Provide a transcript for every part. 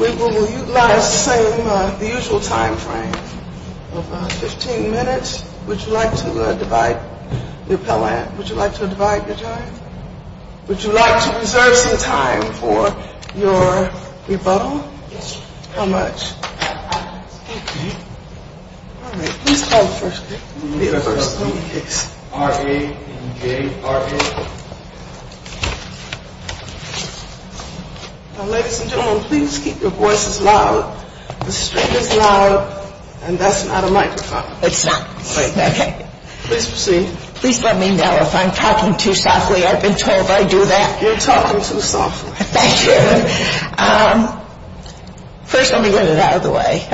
We will utilize the same usual time frame of 15 minutes. Would you like to divide the time? Would you like to reserve your time for your rebuttal? Yes. How much? Fifteen. Please hold for a second. R-A-N-J-R-A. Ladies and gentlemen, please keep your voices loud. The speaker is loud, and that's not a microphone. It's not. Please let me know if I'm talking too softly. I've been told I do that. You're talking too softly. Thank you. First, let me get it out of the way.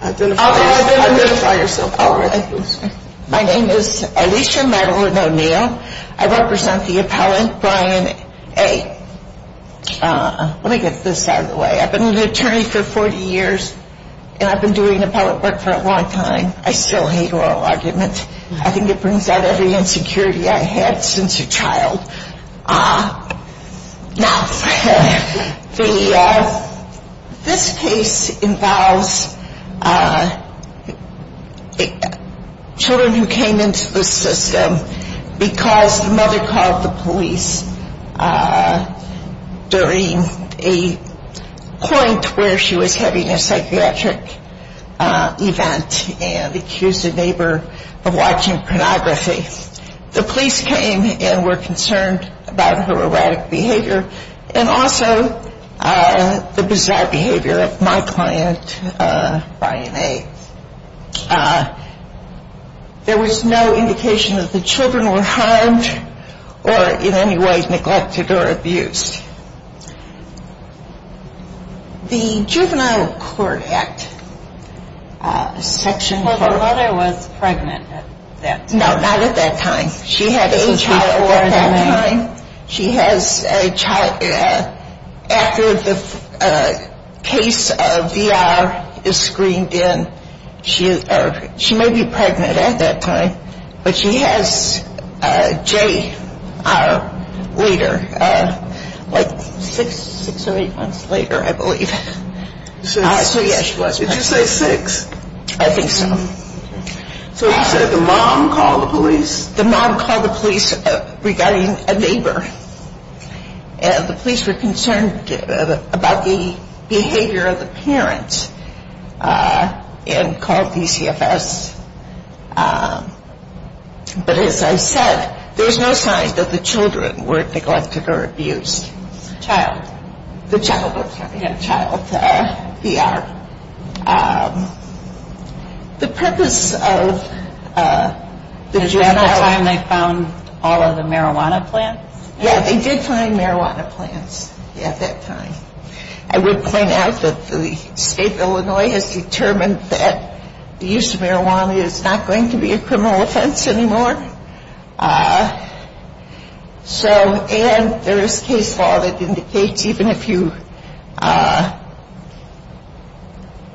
Identify yourself. Hello, everyone. My name is Alicia. I represent the appellant, Brian A. Let me get this out of the way. I've been an attorney for 40 years, and I've been doing appellate work for a long time. I still hate oral arguments. Now, this case involves children who came into the system because the mother called the police during a point where she was having a psychiatric event and accused a neighbor of watching pornography. The police came and were concerned about her erratic behavior and also the bizarre behavior of my client, Brian A. There was no indication that the children were harmed or in any way neglected or abused. The juvenile court act section- But her mother was pregnant at that time. No, not at that time. She had a child at that time. She has a child after the case of VR is screened in. She may be pregnant at that time, but she has Jace, our leader. She was born six or eight months later, I believe. Did you say six? I think so. So, you said the mom called the police? The mom called the police regarding a neighbor. The police were concerned about the behavior of the parent and called DCFS. But as I said, there was no sign that the children were neglected or abused. The child. The child. They had a child. VR. The purpose of the juvenile- Do you have a plan that found all of the marijuana plants? Yeah, they did find marijuana plants at that time. I would point out that the state of Illinois has determined that the use of marijuana is not going to be a criminal offense anymore. So, and there is case law that indicates even if you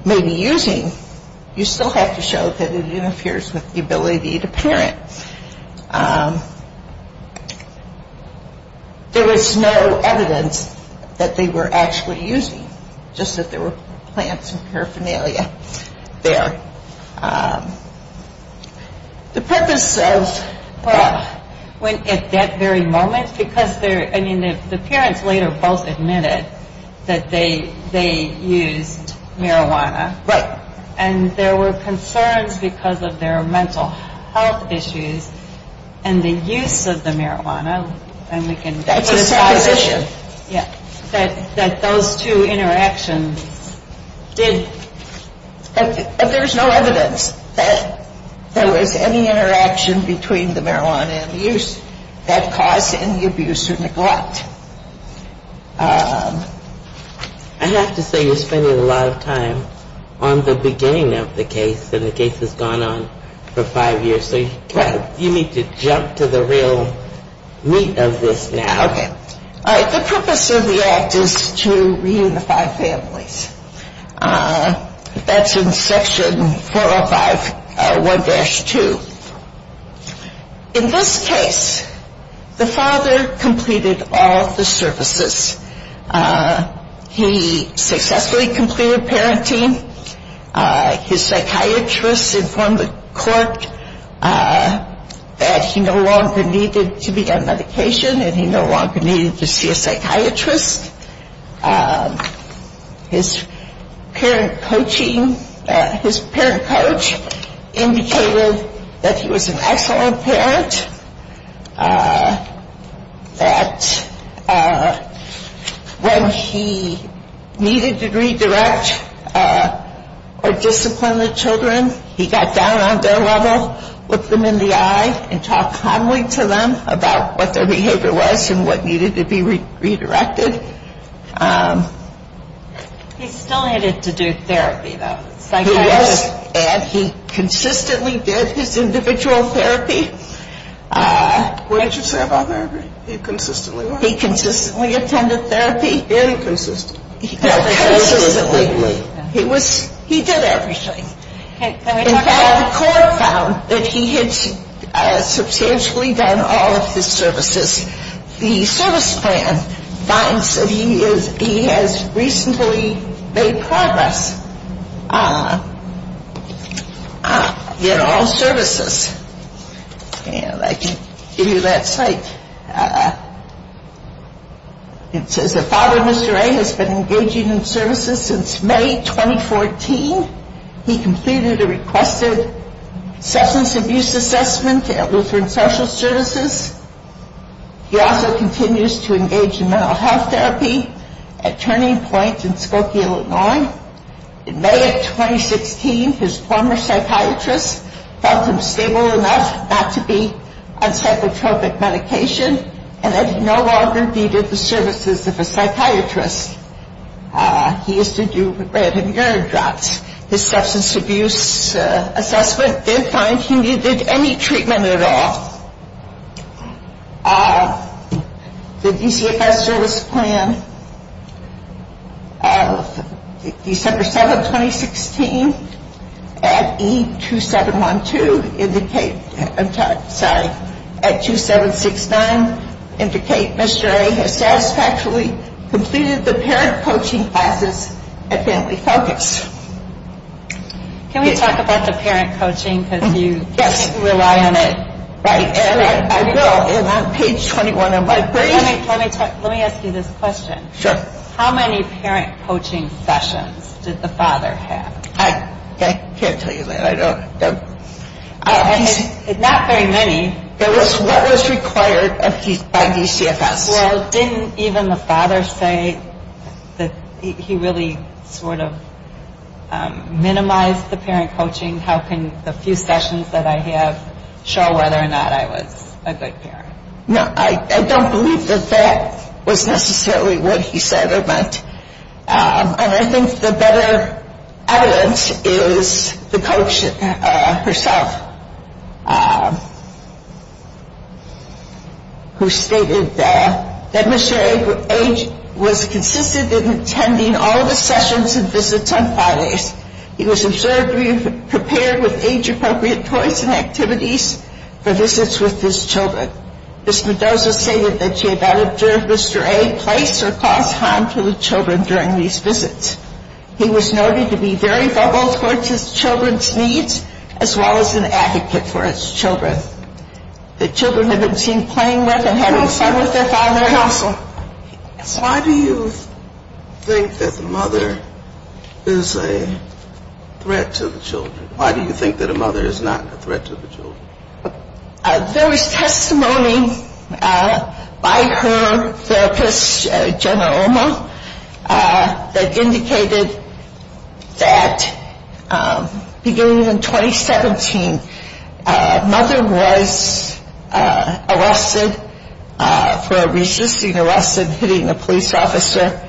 may be using, you still have to show that it interferes with the ability of the parent. There was no evidence that they were actually using, just that there were plants and paraphernalia there. The purpose of that very moment, because the parents later both admitted that they used marijuana. Right. And there were concerns because of their mental health issues and the use of the marijuana. And we can- That's a private issue. Yes. That those two interactions did- There's no evidence that there was any interaction between the marijuana and the use that caused any abuse or neglect. I have to say you're spending a lot of time on the beginning of the case, and the case has gone on for five years, so you need to jump to the real meat of this now. Okay. All right. The purpose of the act is to reunify families. That's in section 405.1-2. In this case, the father completed all of the services. He successfully completed parenting. His psychiatrist informed the court that he no longer needed to be on medication and he no longer needed to see a psychiatrist. His parent coach indicated that he was an excellent parent, that when he needed to redirect or discipline the children, he got down on their level, looked them in the eye, and talked calmly to them about what their behavior was and what needed to be redirected. He still needed to do therapy, though. Psychiatrist said he consistently did his individual therapy. We just have our therapy. He consistently went. He consistently attended therapy. Very consistently. He did everything. In fact, the court found that he had substantially done all of his services. The service plan finds that he has reasonably made progress in all services. And I can give you that site. The father, Mr. A, has been engaging in services since May 2014. He completed a requested substance abuse assessment at Lutheran Social Services. He also continues to engage in mental health therapy at Turning Point in Skokie, Illinois. In May of 2015, his former psychiatrist found him stable enough not to be on psychotropic medication, and that he no longer needed the services of a psychiatrist. He used to do red and green drugs. His substance abuse assessment did find he needed any treatment at all. The DCFS service plan, December 7, 2016, at E2712 indicates, I'm sorry, at 2769, indicates Mr. A has satisfactorily completed the parent coaching classes at Bentley Focus. Can we talk about the parent coaching? Yes, you can rely on it right now. I will. It's on page 21 of my brain. Let me ask you this question. Sure. How many parent coaching sessions did the father have? I can't tell you that. Not very many. What was required by DCFS? Well, didn't even the father say that he really sort of minimized the parent coaching? I mean, how can a few sessions that I have show whether or not I was a good parent? No, I don't believe that that was necessarily what he said, and I think the better evidence is the coach herself, who stated that Mr. A was consistent in attending all of the sessions and visits of fathers. He was absurdly prepared with age-appropriate toys and activities for visits with his children. Ms. Mendoza stated that she had not observed Mr. A twice or caused harm to the children during these visits. He was noted to be very vulnerable towards his children's needs as well as an advocate for his children. The children had been seen playing with and having fun with their father. Why do you think that a mother is a threat to the children? Why do you think that a mother is not a threat to the children? There was testimony by her therapist, General Irma, that indicated that beginning in 2017, a mother was arrested for resisting arrest and hitting a police officer.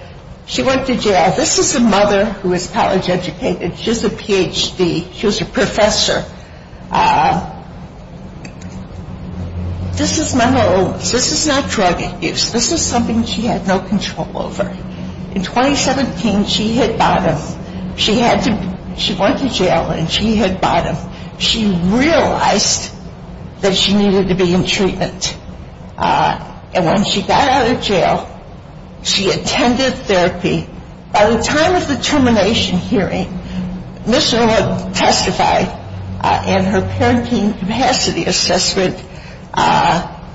She went to jail. This is the mother who was college educated. She has a Ph.D. She was a professor. This is not drug abuse. This is something she had no control over. In 2017, she hit bottom. She went to jail and she hit bottom. She realized that she needed to be in treatment, and when she got out of jail, she attended therapy. By the time of the termination hearing, Mr. A had testified and her quarantine capacity assessment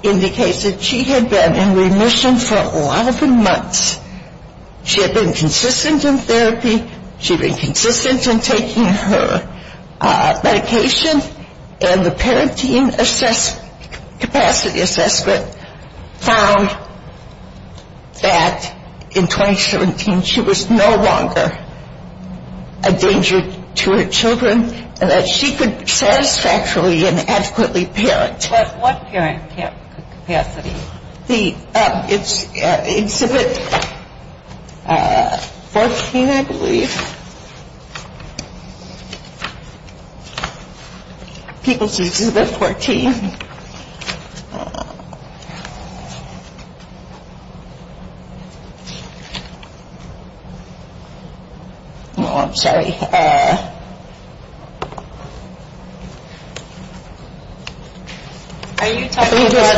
indicated she had been in remission for a lot of months. She had been consistent in therapy. She was consistent in taking her medications, and the quarantine capacity assessment found that in 2017, she was no longer a danger to her children, and that she could satisfactory and adequately parent. What parent capacity? It's with 14, I believe. People can do this for 14. Oh, I'm sorry. Are you talking about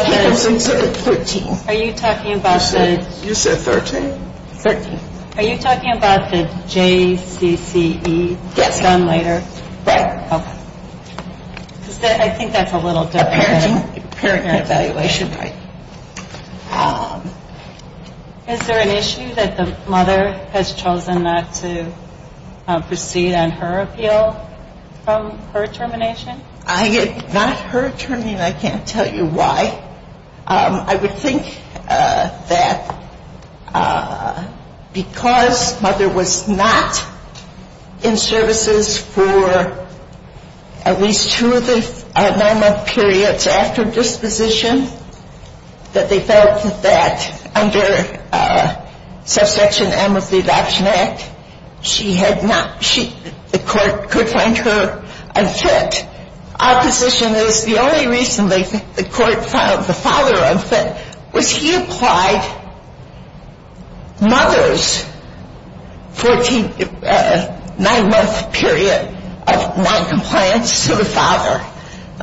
the J-C-C-E, done later? I think that's a little different. Is there an issue that the mother has chosen not to proceed on her appeal from her termination? I did not hurt her, and I can't tell you why. I would think that because Mother was not in services for at least two of the nine-month periods after disposition, that they felt that under Subsection M of the Adoption Act, the court could find her unfit. Opposition is the only reason that the court found the father unfit, which he applied Mother's nine-month period of noncompliance to the father.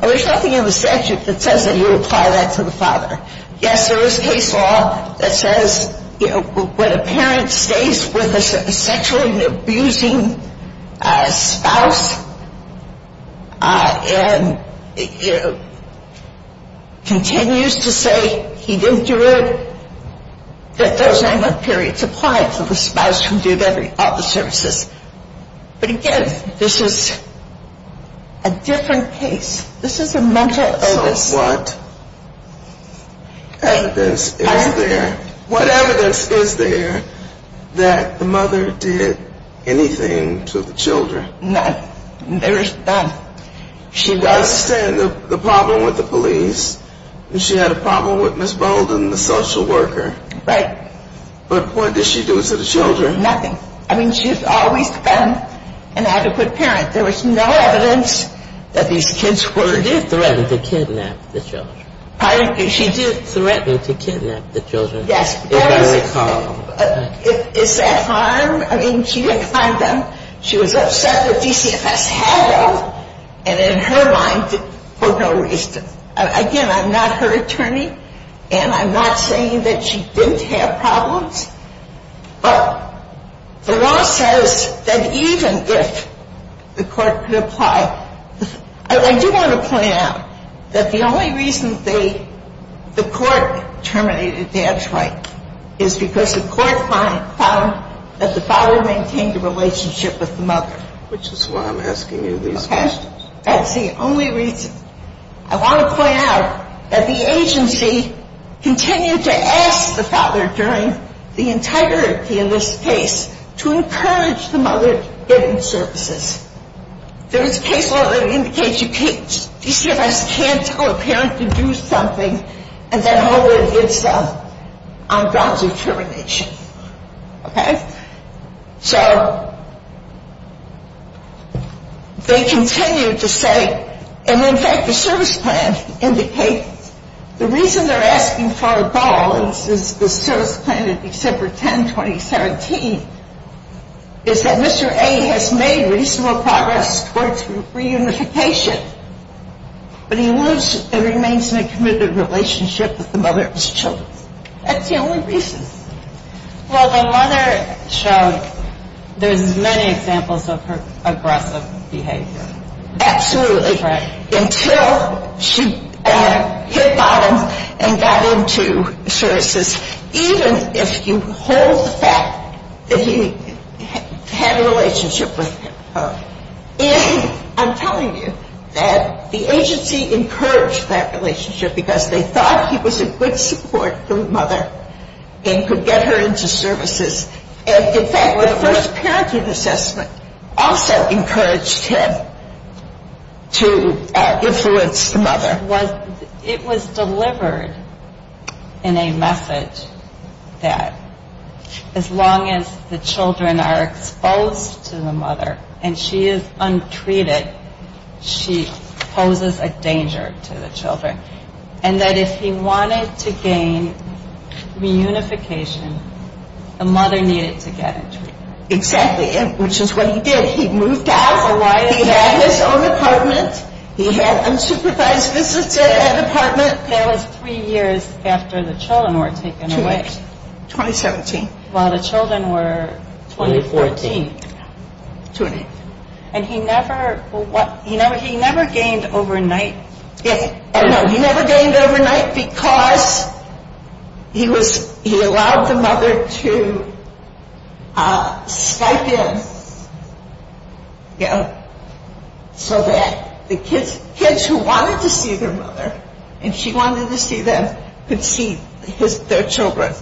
There's something in the statute that says that you apply that to the father. Yes, there is case law that says when a parent stays with a sexually abusing spouse and continues to say he didn't do it, that those nine-month periods apply to the spouse who did all the services. But again, this is a different case. This is a mental illness. What evidence is there that the mother did anything to the children? No, there is none. She does have the problem with the police, and she had a problem with Ms. Bolden, the social worker. Right. But what did she do to the children? Nothing. I mean, she's always been an adequate parent. There was no evidence that these kids were- She did threaten to kidnap the children. She did threaten to kidnap the children. Yes. Is that harm? I mean, she didn't find them. She was upset that DCFS had them, and in her mind, there was no reason. Again, I'm not her attorney, and I'm not saying that she didn't have problems, but the law says that even if the court could apply, I do want to point out that the only reason the court terminated the advance right is because the court found that the father maintained a relationship with the mother. This is why I'm asking you these questions. That's the only reason. I want to point out that the agency continued to ask the father during the integrity in this case to encourage the mother's business services. There's a case law that indicates you can't- DCFS can't tell a parent to do something and then hold it against them on doctor's termination. Okay. So they continued to say, and in fact the service plan indicates, the reason they're asking for a ball is the service plan in December 10, 2017, is that Mr. A has made reasonable progress towards reunification, but he lives and remains in a committed relationship with the mother and his children. That's the only reason. Well, the mother showed there's many examples of her aggressive behavior. Absolutely. Until she kicked on him and got him to services, even if you hold the fact that he had a relationship with her. I'm telling you that the agency encouraged that relationship because they thought he was a good support to the mother and could get her into services. In fact, the first parenting assessment also encouraged him to influence the mother. It was delivered in a message that as long as the children are exposed to the mother and she is untreated, she poses a danger to the children. And that if he wanted to gain reunification, the mother needed to get it to him. Exactly. Which is what he did. He moved out. He had his own apartment. He had unsupervised visits to the apartment. That was three years after the children were taken away. 2017. While the children were... 2014. And he never gained overnight. Yes. He never gained overnight because he allowed the mother to spike in so that the kids who wanted to see their mother, and she wanted to see them, could see their children,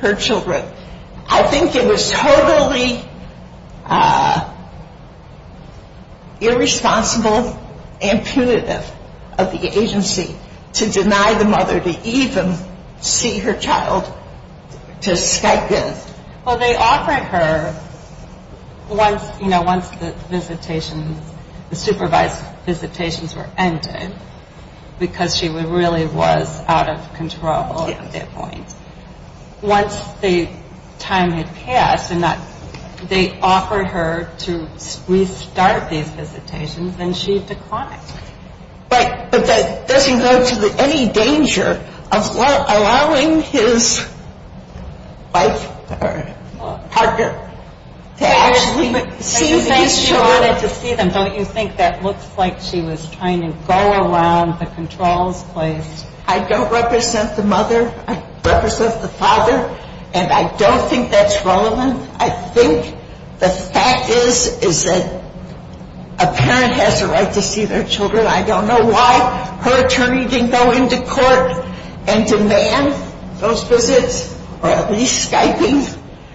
her children. I think it was totally irresponsible and punitive of the agency to deny the mother to even see her child to spike in. Well, they offered her once the supervised visitations were ended because she really was out of control at that point. Once the time had passed, they offered her to restart the visitations, and she declined. But that doesn't go to any danger of allowing his wife or husband to actually see his children and to see them. Don't you think that looks like she was trying to go around the controlled place? I don't represent the mother. I represent the father. And I don't think that's relevant. I think the fact is that a parent has the right to see their children. I don't know why her attorneys didn't go into court and demand those visits or at least spike in.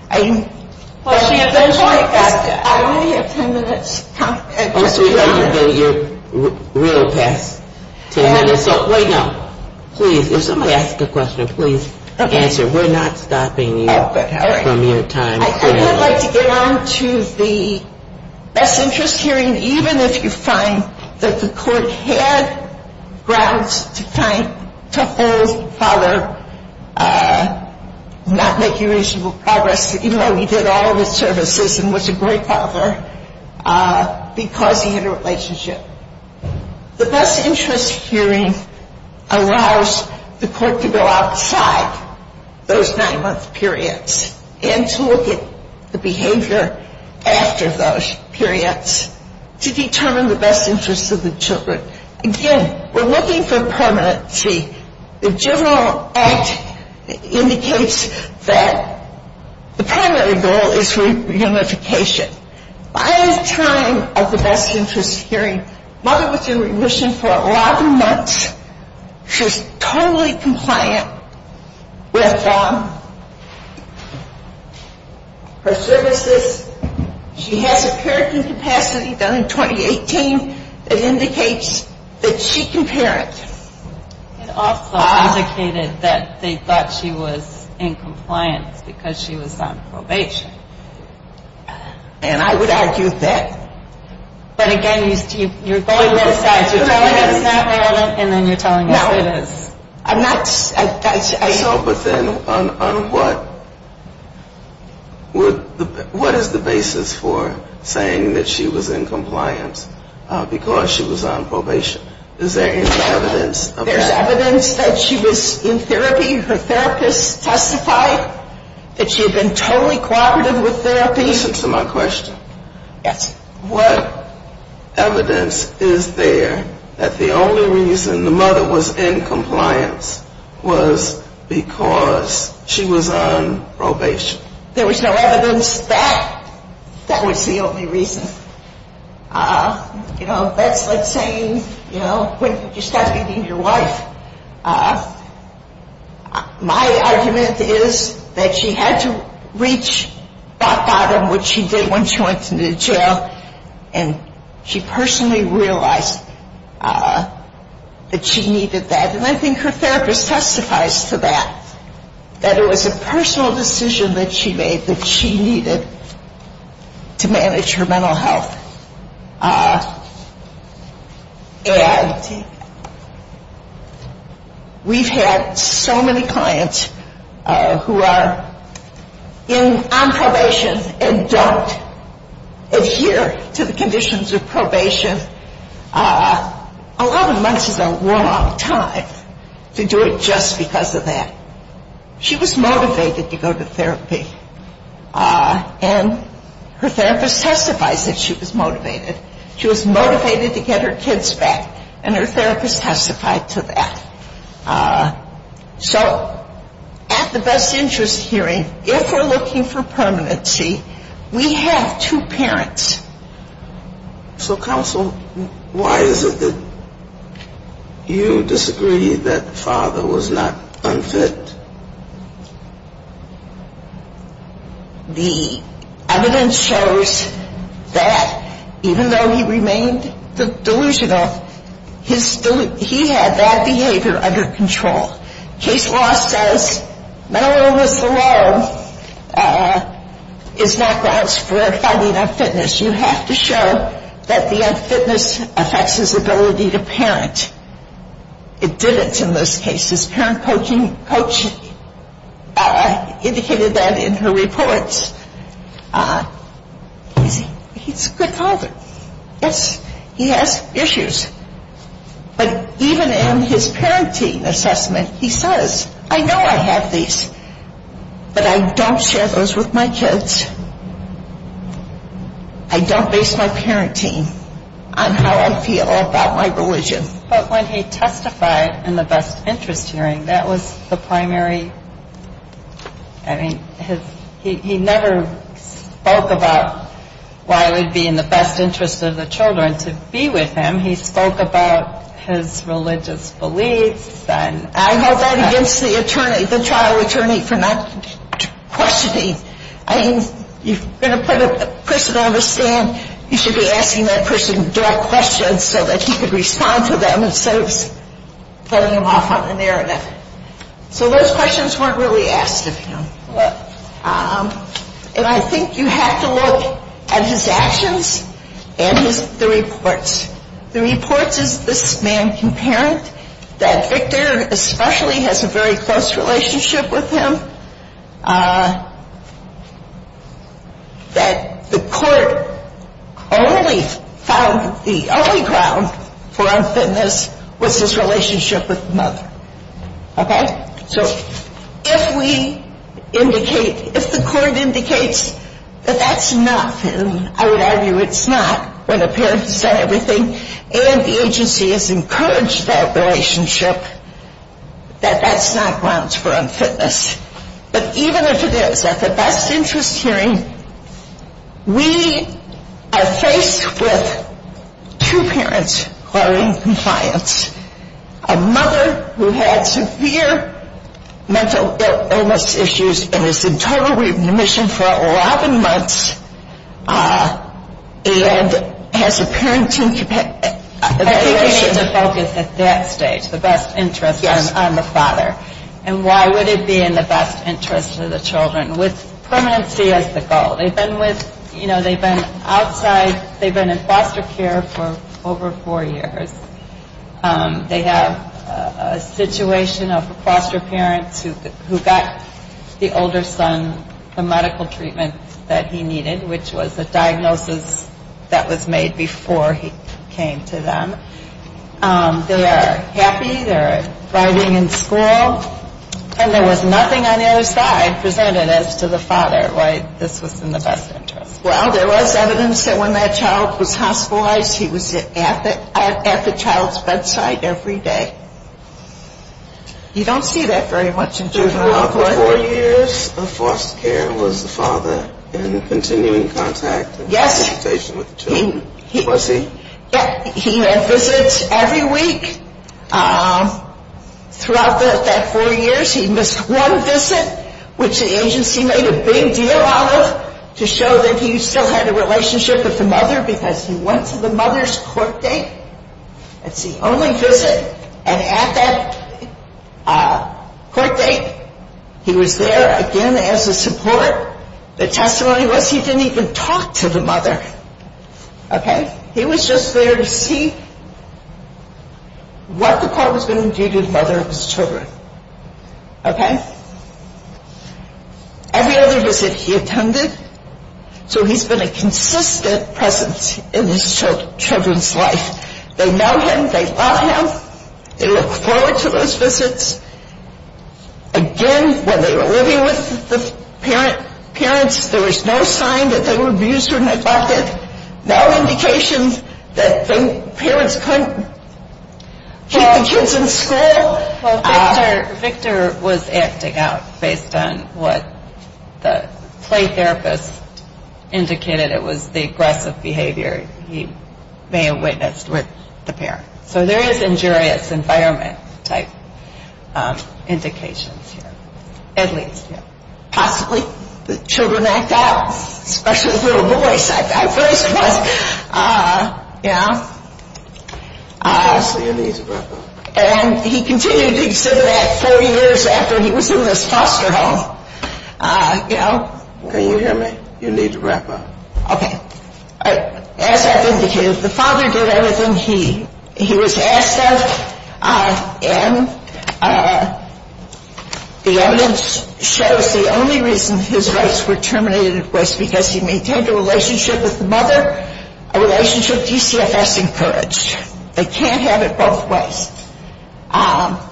Well, she eventually got to it. I only have 10 minutes. Okay, you're really past 10 minutes. So, wait up. Please, if somebody asks a question, please answer. We're not stopping you from your time. I feel like down to the best interest hearing, even if you find that the court had grounds to hold father not making any progress, even though he did all the services and was a great father, because he had a relationship. The best interest hearing allows the court to go outside those nine-month periods and to look at the behavior after those periods to determine the best interest of the children. Again, we're looking for permanency. The general act indicates that the primary goal is reunification. By the time of the best interest hearing, mother was in remission for a lot of months. She's totally compliant with her services. She had a parenting capacity done in 2018 that indicates that she can parent. It also indicated that they thought she was in compliance because she was on probation. And I would argue that. But, again, you're saying that it's not valid and then you're telling me it is. No, but then what is the basis for saying that she was in compliance because she was on probation? Is there any evidence? There's evidence that she was in therapy. The therapists testified that she had been totally compliant with therapy. Listen to my question. What evidence is there that the only reason the mother was in compliance was because she was on probation? There was no evidence that that was the only reason. You know, that's like saying, you know, when did you start being your wife? My argument is that she had to reach that bottom, which she did when she went into jail, and she personally realized that she needed that. And I think her therapist testifies to that, that it was a personal decision that she made that she needed to manage her mental health. And we've had so many clients who are on probation and don't adhere to the conditions of probation. A lot of them must have had a long time to do it just because of that. And her therapist testified that she was motivated. She was motivated to get her kids back, and her therapist testified to that. So at the best interest hearing, if we're looking for permanency, we have two parents. So counsel, why is it that you disagree that the father was not unfit? The evidence shows that even though he remained delusional, he had that behavior under control. The case law says no one below is not grounds for finding unfitness. You have to show that the unfitness affects his ability to parent. It didn't in most cases. Parent coaching indicated that in her reports. He's a good father. He has issues. But even in his parenting assessment, he says, I know I have these, but I don't share those with my kids. I don't base my parenting on how I feel about my religion. But when he testified in the best interest hearing, that was the primary. He never spoke about why it would be in the best interest of the children to be with him. He spoke about his religious beliefs. I held that against the child attorney for not questioning. I think you're going to put a person on the stand, you should be asking that person direct questions so that he could respond to them instead of throwing them off on the narrow end. So those questions weren't really asked of him. And I think you have to look at his actions and the reports. The report says this man can parent, that Victor especially has a very close relationship with him, that the court only found the only ground for unfitness with his relationship with another. Okay? So if we indicate, if the court indicates that that's not true, I would argue it's not when the parents have said everything and the agency has encouraged that relationship, that that's not grounds for unfitness. But even as it is, at the best interest hearing, we are faced with two parents who are in compliance. A mother who had severe mental illness issues and is in total remission for 11 months and has a parenting situation. The focus at that stage, the best interest on the father. And why would it be in the best interest of the children? With permanency as the goal. They've been outside. They've been in foster care for over four years. They have a situation of a foster parent who got the older son from medical treatment that he needed, which was the diagnosis that was made before he came to them. They are happy. They are thriving in school. And there was nothing on either side presented as to the father, right? This was in the best interest. Well, there was evidence that when that child was hospitalized, he was at the child's bedside every day. You don't see that very much in juvenile court reviews. The foster parent was the father in continuing contact and participation with the children. Was he? Yes. He had visits every week. Throughout that four years, he missed one visit, which the agency made a big deal out of to show that he still had a relationship with the mother because he went to the mother's court date. That's the only visit. And at that court date, he was there again as a support. The testimony was he didn't even talk to the mother. Okay? He was just there to see what the court was going to do to his mother and his children. Okay? Every other visit he attended, so he's been a consistent presence in his children's life. They know him. They love him. They look forward to those visits. Again, when they were living with the parents, there was no sign that they were abused or narcissistic, no indications that the parents couldn't take the children to school. Victor was acting out based on what the play therapist indicated. It was the aggressive behavior he may have witnessed with the parents. So there is injurious environment-type indications here, at least. Possibly the children act out, especially the little boys. I've raised one. Yeah? And he continued to exhibit that 30 years after he was doing his foster home. Can you hear me? You need to wrap up. Okay. As that indicates, the father did everything he was asked of, and the evidence shows the only reasons his rights were terminated was because he maintained a relationship with the mother, a relationship these kids have to encourage. They can't have it both ways. And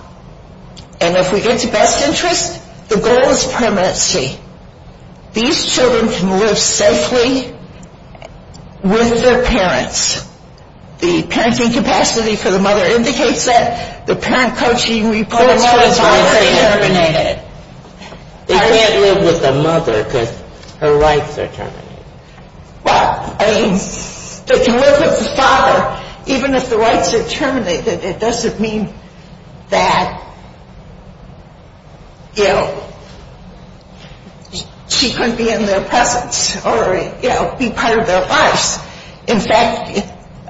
if we get to best interest, the goal is permanency. These children can live safely with their parents. The parenting capacity for the mother indicates that the parent coaching before the mother was terminated. They can't live with the mother because her rights are terminated. Well, I mean, to live with the father, even if the rights are terminated, it doesn't mean that, you know, she couldn't be in their preference or, you know, be part of their class. In fact,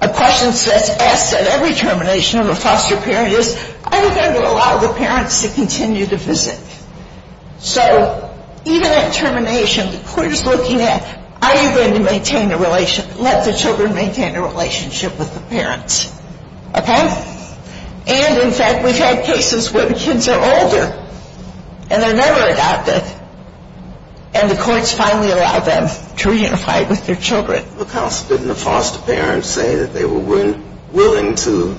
a question that's asked at every termination of a foster parent is, are we going to allow the parents to continue to visit? So even at termination, the court is looking at, are you going to let the children maintain a relationship with the parents? Okay? And, in fact, we've had cases where the kids are older, and they're never adopted, and the courts finally allow them to reunify with their children. Well, didn't the foster parents say that they were willing to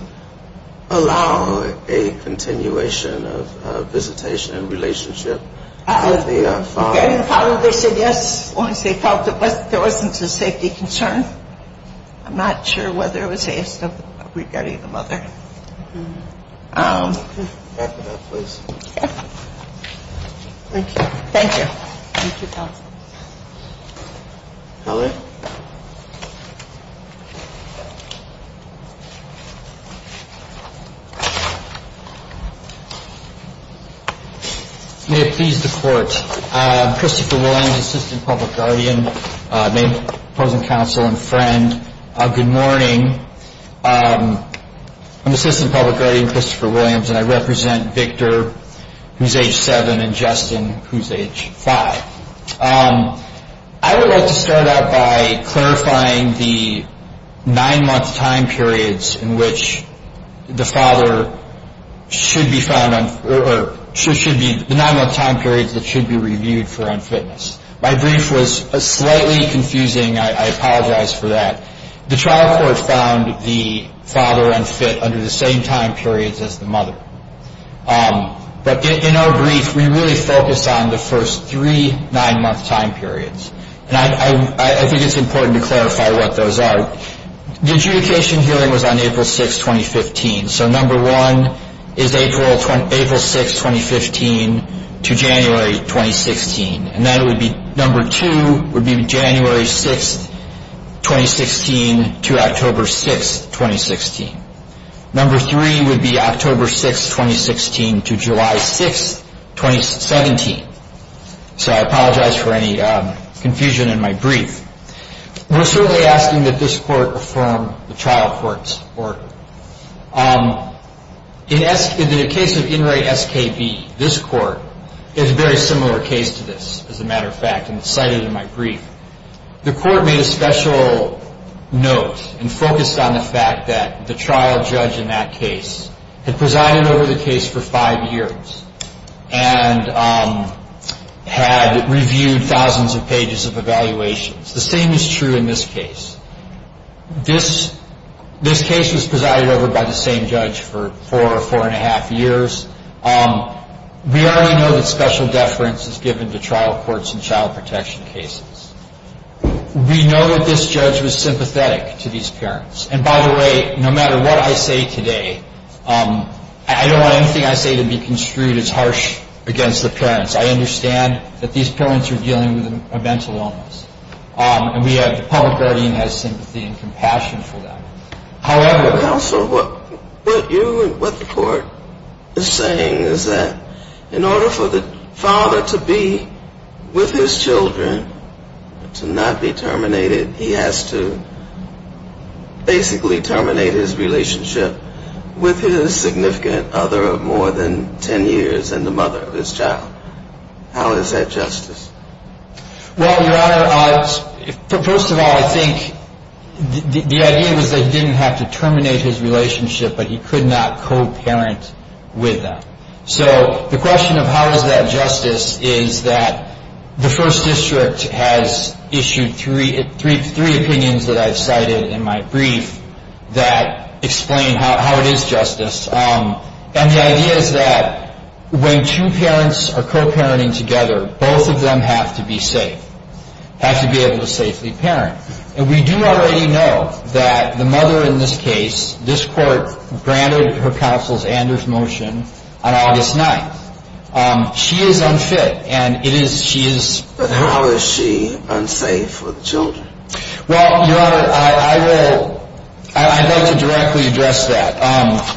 allow a continuation of visitation and relationship with the father? The parents probably said yes once they felt that there wasn't a safety concern. I'm not sure whether it was a safety concern regarding the mother. Okay. Thank you. Thank you. May it please the Court. Christopher Williams, Assistant Public Guardian, name of the present counsel and friend. Good morning. I'm Assistant Public Guardian Christopher Williams, and I represent Victor, who's age seven, and Justin, who's age five. I would like to start out by clarifying the nine-month time periods in which the father should be found or should be the nine-month time period that should be reviewed for unfitness. My brief was slightly confusing. I apologize for that. The trial court found the father unfit under the same time periods as the mother. But in our brief, we really focused on the first three nine-month time periods, and I think it's important to clarify what those are. The adjudication hearing was on April 6, 2015, so number one is April 6, 2015 to January 2016, and number two would be January 6, 2016 to October 6, 2016. Number three would be October 6, 2016 to July 6, 2017. So I apologize for any confusion in my brief. We're certainly asking that this court affirm the trial court's report. In the case of Inmate SKD, this court is a very similar case to this, as a matter of fact, and it's cited in my brief. The court made a special note and focused on the fact that the trial judge in that case had presided over the case for five years and had reviewed thousands of pages of evaluations. The same is true in this case. This case was presided over by the same judge for four or four-and-a-half years. We already know that special deference is given to trial courts in child protection cases. We know that this judge was sympathetic to these parents. And, by the way, no matter what I say today, I don't want anything I say to be construed as harsh against the parents. I understand that these parents are dealing with a mental illness, and we have the public guardian that has sympathy and compassion for them. However, what you and what the court is saying is that in order for the father to be with his children, to not be terminated, he has to basically terminate his relationship with his significant other of more than ten years and the mother of his child. How is that justice? Well, Your Honor, first of all, I think the idea was that he didn't have to terminate his relationship, but he could not co-parent with that. So the question of how is that justice is that the First District has issued three opinions that I have cited in my brief that explain how it is justice. And the idea is that when two parents are co-parenting together, both of them have to be safe, have to be able to safely parent. And we do already know that the mother in this case, this court granted her counsel's and his motion on August 9th. She is unfit. But how is she unfaithful to you? Well, Your Honor, I'd like to directly address that.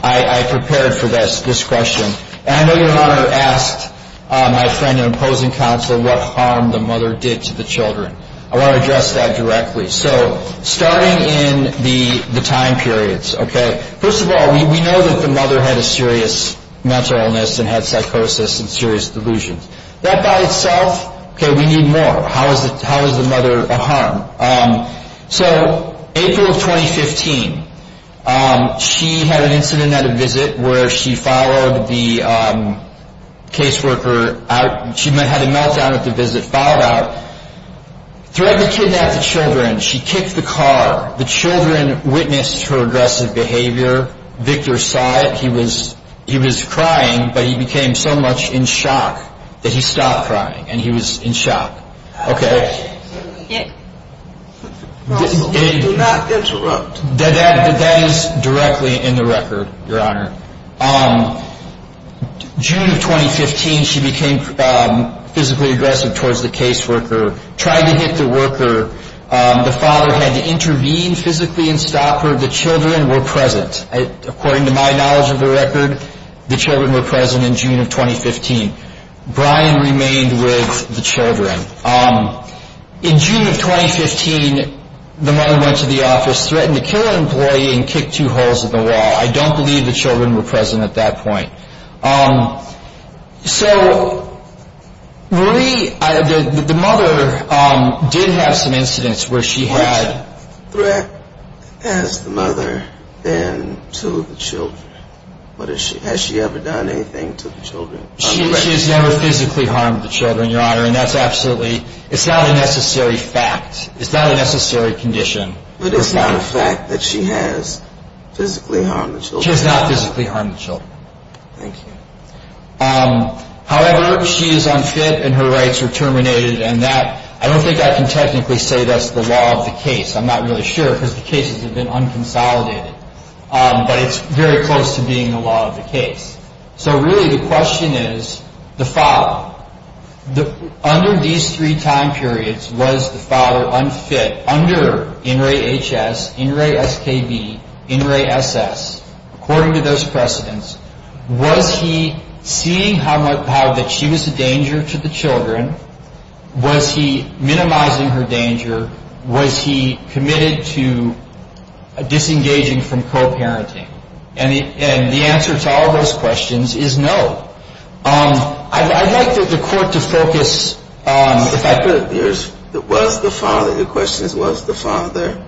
I prepared for this question. And I know your mother asked my friend and opposing counsel what harm the mother did to the children. I want to address that directly. So starting in the time periods, okay, first of all, we know that the mother had a serious mental illness and had psychosis and serious delusions. That by itself, okay, we need more. How is the mother a harm? So April 2015, she had an incident at a visit where she followed the caseworker out. She had a meltdown at the visit, followed out. She had to kidnap the children. She kicked the car. The children witnessed her aggressive behavior. Victor saw it. He was crying, but he became so much in shock that he stopped crying, and he was in shock. Okay? You should not interrupt. That is directly in the record, Your Honor. June of 2015, she became physically aggressive towards the caseworker, tried to hit the worker. The father had to intervene physically and stop her. The children were present. According to my knowledge of the record, the children were present in June of 2015. Brian remained with the children. In June of 2015, the mother went to the office, threatened to kill an employee, and kicked two holes in the wall. I don't believe the children were present at that point. So the mother did have some incidents where she had... Where has the mother been to the children? Has she ever done anything to the children? She has never physically harmed the children, Your Honor, and that's absolutely... It's not a necessary fact. It's not a necessary condition. But it's not a fact that she has physically harmed the children. She has not physically harmed the children. Thank you. However, she is unfit, and her rights are terminated, and that... I don't think I can technically say that's the law of the case. I'm not really sure, because the case has been unconsolidated. But it's very close to being the law of the case. So really, the question is the father. Under these three time periods, was the father unfit? Under NREA-HS, NREA-SKB, NREA-SS, according to those precedents, was he seeing how much she was a danger to the children? Was he minimizing her danger? Was he committed to disengaging from co-parenting? And the answer to all of those questions is no. I'd like the court to focus... The question is, was the father...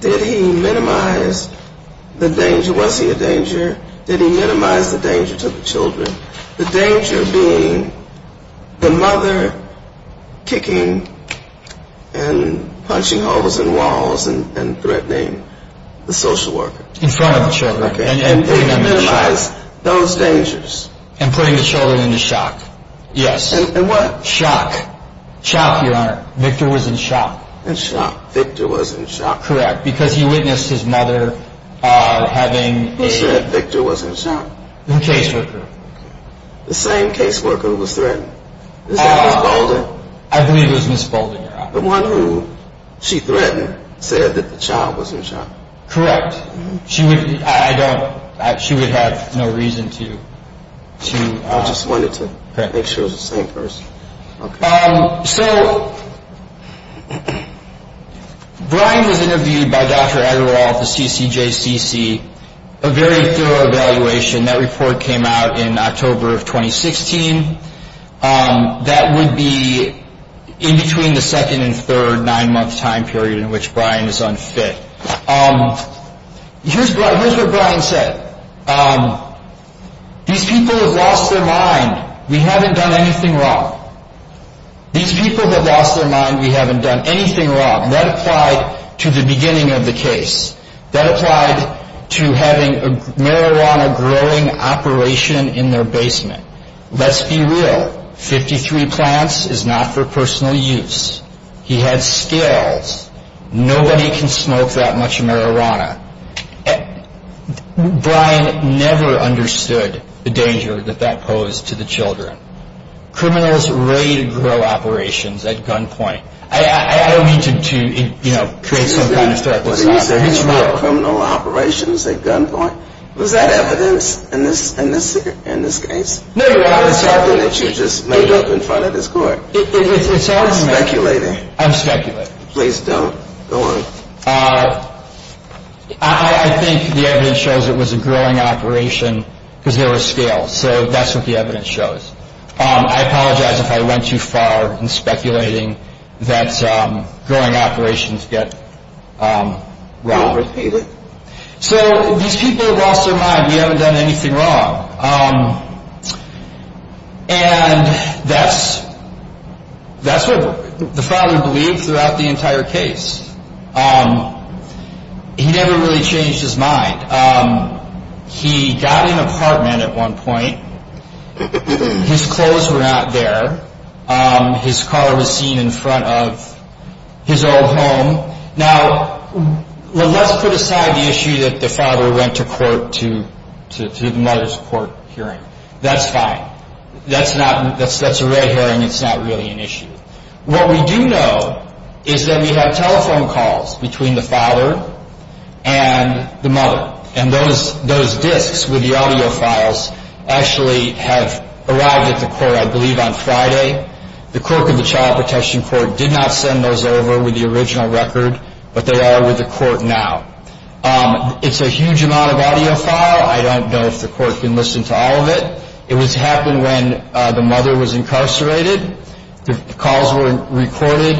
Did he minimize the danger? Was he a danger? Did he minimize the danger to the children? The danger being the mother kicking and punching holes in walls and threatening the social worker. In front of the children. And did he minimize those dangers? And putting the children in shock. Yes. In what? Shock. Shock, Your Honor. Victor was in shock. In shock. Victor was in shock. Correct. Because he witnessed his mother having a... He said Victor was in shock. In case worker. The same case worker was threatened. I believe it was Miss Fulton. The one who she threatened said that the child was in shock. Correct. She would... I don't... She would have no reason to... I just wanted to make sure it was the same person. So... Brian was interviewed by Dr. Agarwal at the CCJCC. A very thorough evaluation. That report came out in October of 2016. That would be in between the second and third nine-month time period in which Brian is unfit. Here's what Brian said. These people have lost their mind. We haven't done anything wrong. These people have lost their mind. We haven't done anything wrong. That applied to the beginning of the case. That applied to having a marijuana growing operation in their basement. Let's be real. 53 plants is not for personal use. He had skills. Nobody can smoke that much marijuana. Brian never understood the danger that that posed to the children. Criminals ready to grow operations at gunpoint. I don't mean to create some kind of threat. Ready to grow criminal operations at gunpoint? Was that evidence in this case? No, no. It's something that you just made up in front of this court. It's an argument. Speculator. I'm a speculator. Please don't. Don't worry. I think the evidence shows it was a growing operation because there was scale. So that's what the evidence shows. I apologize if I went too far in speculating that growing operations get wrong. I appreciate it. These people have lost their mind. We haven't done anything wrong. And that's what the father believed throughout the entire case. He never really changed his mind. He got an apartment at one point. His clothes were not there. His car was seen in front of his own home. Now, let's put aside the issue that the father went to court to the mother's court hearing. That's fine. That's a red herring. It's not really an issue. What we do know is that we have telephone calls between the father and the mother. And those disks with the audio files actually have arrived at the court, I believe, on Friday. The clerk of the child protection court did not send those over with the original record, but they are with the court now. It's a huge amount of audio file. I don't know if the court's been listening to all of it. It was happening when the mother was incarcerated. The calls were recorded.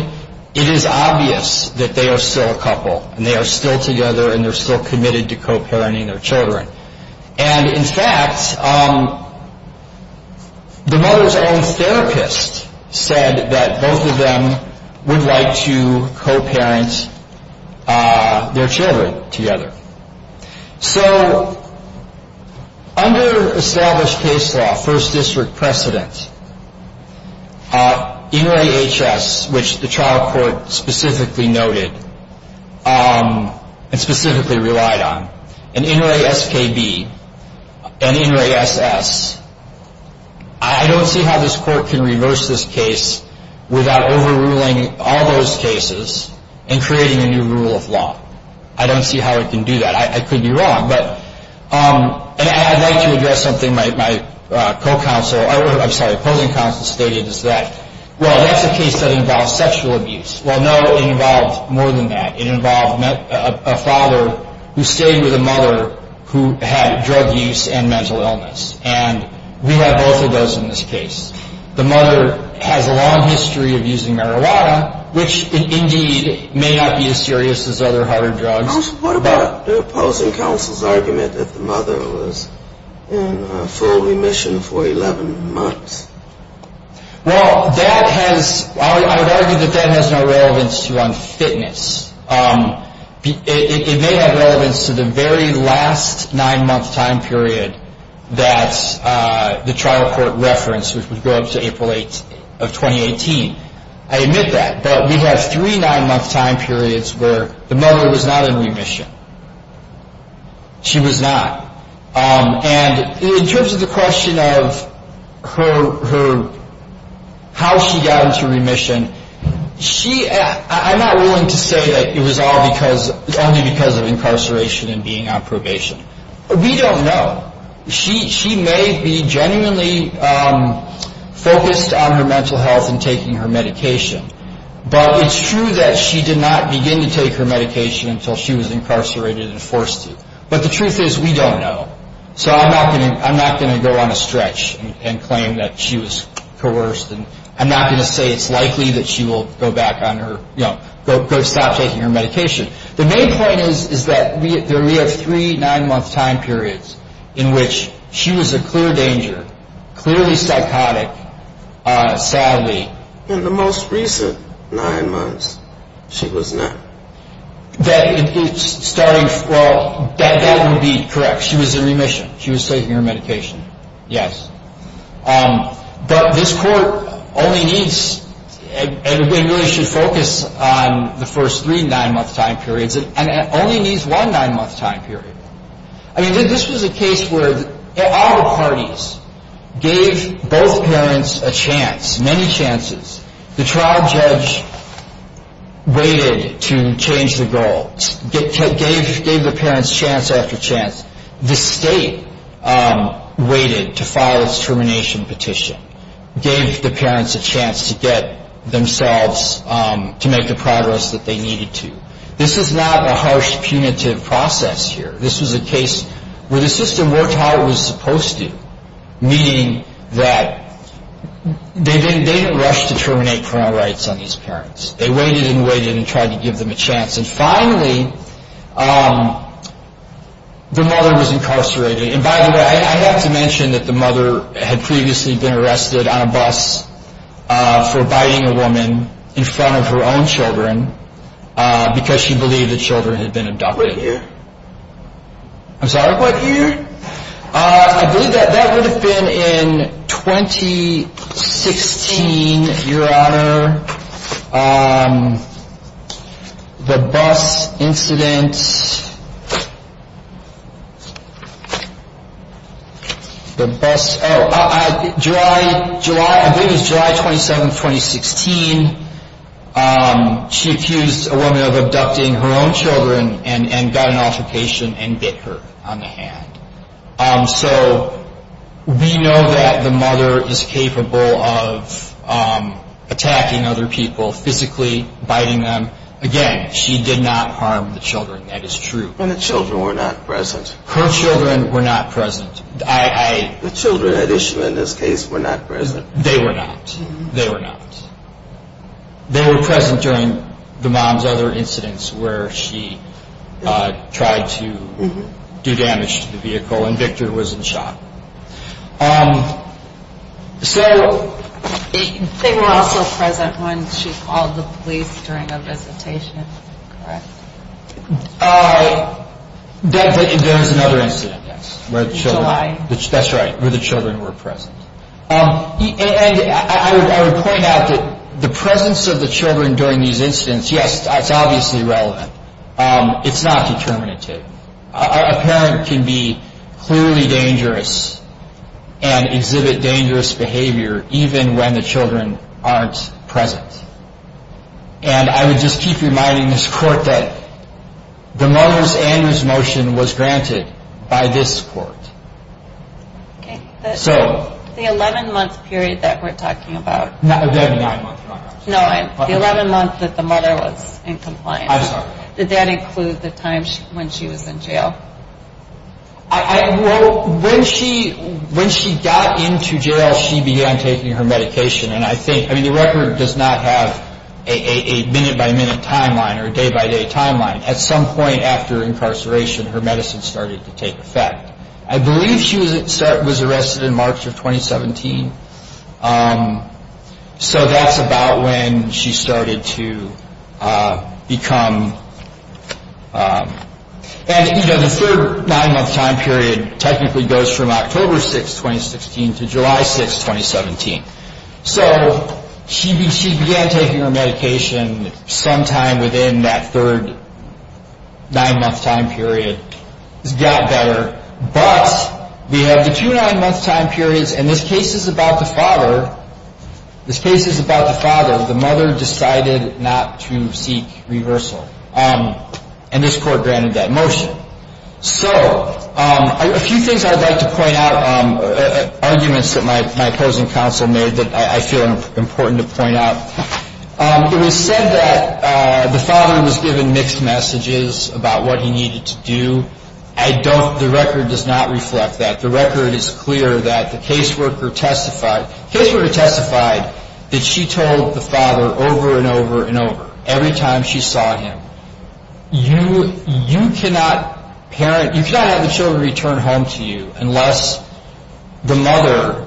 It is obvious that they are still a couple, and they are still together, and they're still committed to co-parenting their children. And, in fact, the mother's own therapist said that both of them would like to co-parent their children together. So, under established case law, first district precedence, NRAHS, which the child court specifically noted and specifically relied on, and NRAHSKB and NRAHSS, I don't see how this court can reverse this case without overruling all those cases and creating a new rule of law. I don't see how it can do that. I could be wrong. And I'd like to address something my co-counsel or, I'm sorry, opposing counsel stated as well. Well, that's a case that involves sexual abuse. Well, no, it involves more than that. It involves a father who stayed with a mother who had drug use and mental illness. And we have both of those in this case. The mother has a long history of using marijuana, which indeed may not be as serious as other harder drugs. What about the opposing counsel's argument that the mother was in full remission for 11 months? Well, I would argue that that has no relevance to unfitness. It may have relevance to the very last nine-month time period that the child court referenced, which would go up to April 8th of 2018. I admit that. But we have three nine-month time periods where the mother was not in remission. She was not. And in terms of the question of how she got into remission, I'm not willing to say that it was only because of incarceration and being on probation. We don't know. She may be genuinely focused on her mental health and taking her medication. But it's true that she did not begin to take her medication until she was incarcerated and forced to. But the truth is we don't know. So I'm not going to go on a stretch and claim that she was coerced. I'm not going to say it's likely that she will go back on her, you know, stop taking her medication. The main point is that we have three nine-month time periods in which she was in clear danger, clearly psychotic, sadly. In the most recent nine months, she was not. That would be correct. She was in remission. She was taking her medication. Yes. But this court only needs an evaluation focused on the first three nine-month time periods and it only needs one nine-month time period. I mean, this was a case where all parties gave both parents a chance, many chances. The trial judge waited to change the goal, gave the parents chance after chance. The state waited to file its termination petition, gave the parents a chance to get themselves to make the progress that they needed to. This is not a harsh punitive process here. This was a case where the system worked how it was supposed to, meaning that they didn't rush to terminate criminal rights on these parents. They waited and waited and tried to give them a chance. And finally, the mother was incarcerated. And by the way, I have to mention that the mother had previously been arrested on a bus for biting a woman in front of her own children because she believed the children had been abducted. What year? I'm sorry, what year? I believe that that would have been in 2016, Your Honor. The bus incident, the bus, oh, I believe it was July 27, 2016. She accused a woman of abducting her own children and got an altercation and bit her on the hand. So we know that the mother is capable of attacking other people, physically biting them. Again, she did not harm the children, that is true. And the children were not present. Her children were not present. The children at issue in this case were not present. They were not. They were not. They were present during the mom's other incidents where she tried to do damage to the vehicle and Victor was in shock. They were also present when she called the police during a visitation, correct? There was another incident, yes, where the children were present. And I would point out that the presence of the children during these incidents, yes, is obviously relevant. It's not determinative. A parent can be clearly dangerous and exhibit dangerous behavior even when the children aren't present. And I would just keep reminding this court that the mother's annual motion was granted by this court. Okay. So. The 11-month period that we're talking about. No, the 11-month period. No, the 11 months that the mother was in compliance. I'm sorry. Did that include the time when she was in jail? Well, when she got into jail, she began taking her medication. And I think, I mean, the record does not have a minute-by-minute timeline or day-by-day timeline. At some point after incarceration, her medicine started to take effect. I believe she was arrested in March of 2017. So that's about when she started to become, and, you know, the third nine-month time period technically goes from October 6, 2016, to July 6, 2017. So she began taking her medication sometime within that third nine-month time period. It got better. But we have the two nine-month time periods, and this case is about the father. This case is about the father. The mother decided not to seek reversal. And this court granted that motion. So a few things I'd like to point out, arguments that my present counsel made that I feel important to point out. It was said that the father was given mixed messages about what he needed to do. The record does not reflect that. The record is clear that the caseworker testified. The caseworker testified that she told the father over and over and over, every time she saw him, you cannot have your children return home to you unless the mother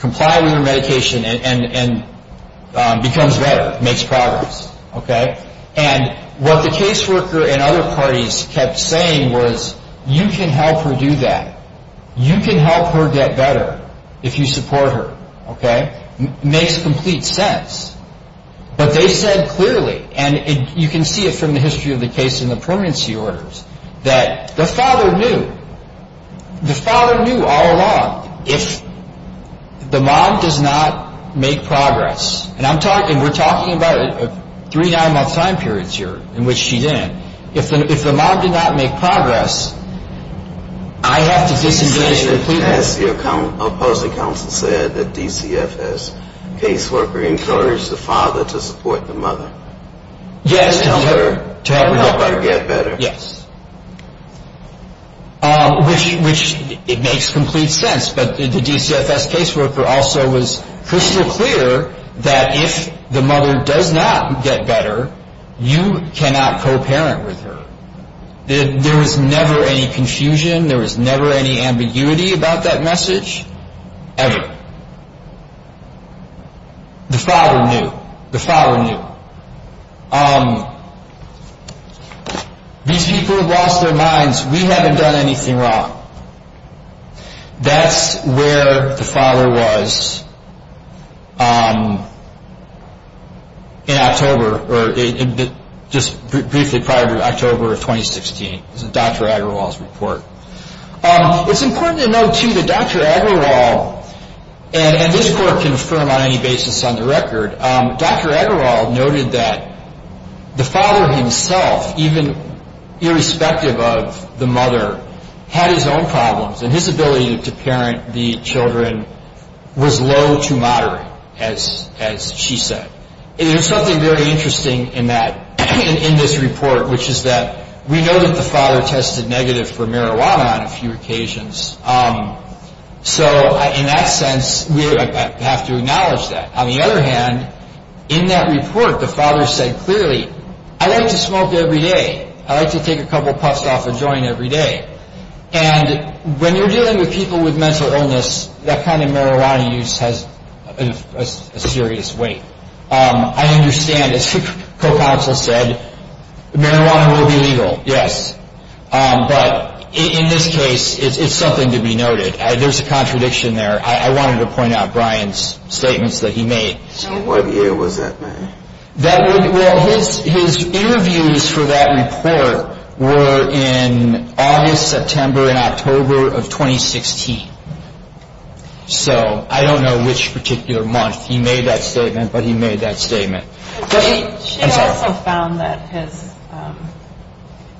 complies with the medication and becomes better, makes progress. Okay? And what the caseworker and other parties kept saying was, you can help her do that. You can help her get better if you support her. Okay? Makes complete sense. But they said clearly, and you can see it from the history of the case in the permanency orders, that the father knew. The father knew all along if the mom does not make progress. And I'm talking, we're talking about three nine-month time periods here in which she didn't. If the mom did not make progress, I have to get the medication. Has the opposing counsel said that DCFS caseworker encouraged the father to support the mother? Yes. To help her get better. Yes. Which makes complete sense. But the DCFS caseworker also was crystal clear that if the mother does not get better, you cannot co-parent with her. There was never any confusion. There was never any ambiguity about that message. Ever. The father knew. The father knew. The people lost their minds. We haven't done anything wrong. That's where the father was in October, or just briefly prior to October of 2016. This is Dr. Agrawal's report. It's important to note, too, that Dr. Agrawal, and this court can confirm on any basis on the record, Dr. Agrawal noted that the father himself, even irrespective of the mother, had his own problems, and his ability to parent the children was low to moderate, as she said. And there's something very interesting in that, in this report, which is that we know that the father tested negative for marijuana on a few occasions. So in that sense, we have to acknowledge that. On the other hand, in that report, the father said clearly, I like to smoke every day. I like to take a couple puffs off a joint every day. And when you're dealing with people with mental illness, that kind of marijuana use has a serious weight. I understand, as her counsel said, marijuana will be legal, yes. But in this case, it's something to be noted. There's a contradiction there. I wanted to point out Brian's statements that he made. So what year was that, then? Well, his interviews for that report were in August, September, and October of 2016. So I don't know which particular month. He made that statement, but he made that statement. She also found that his,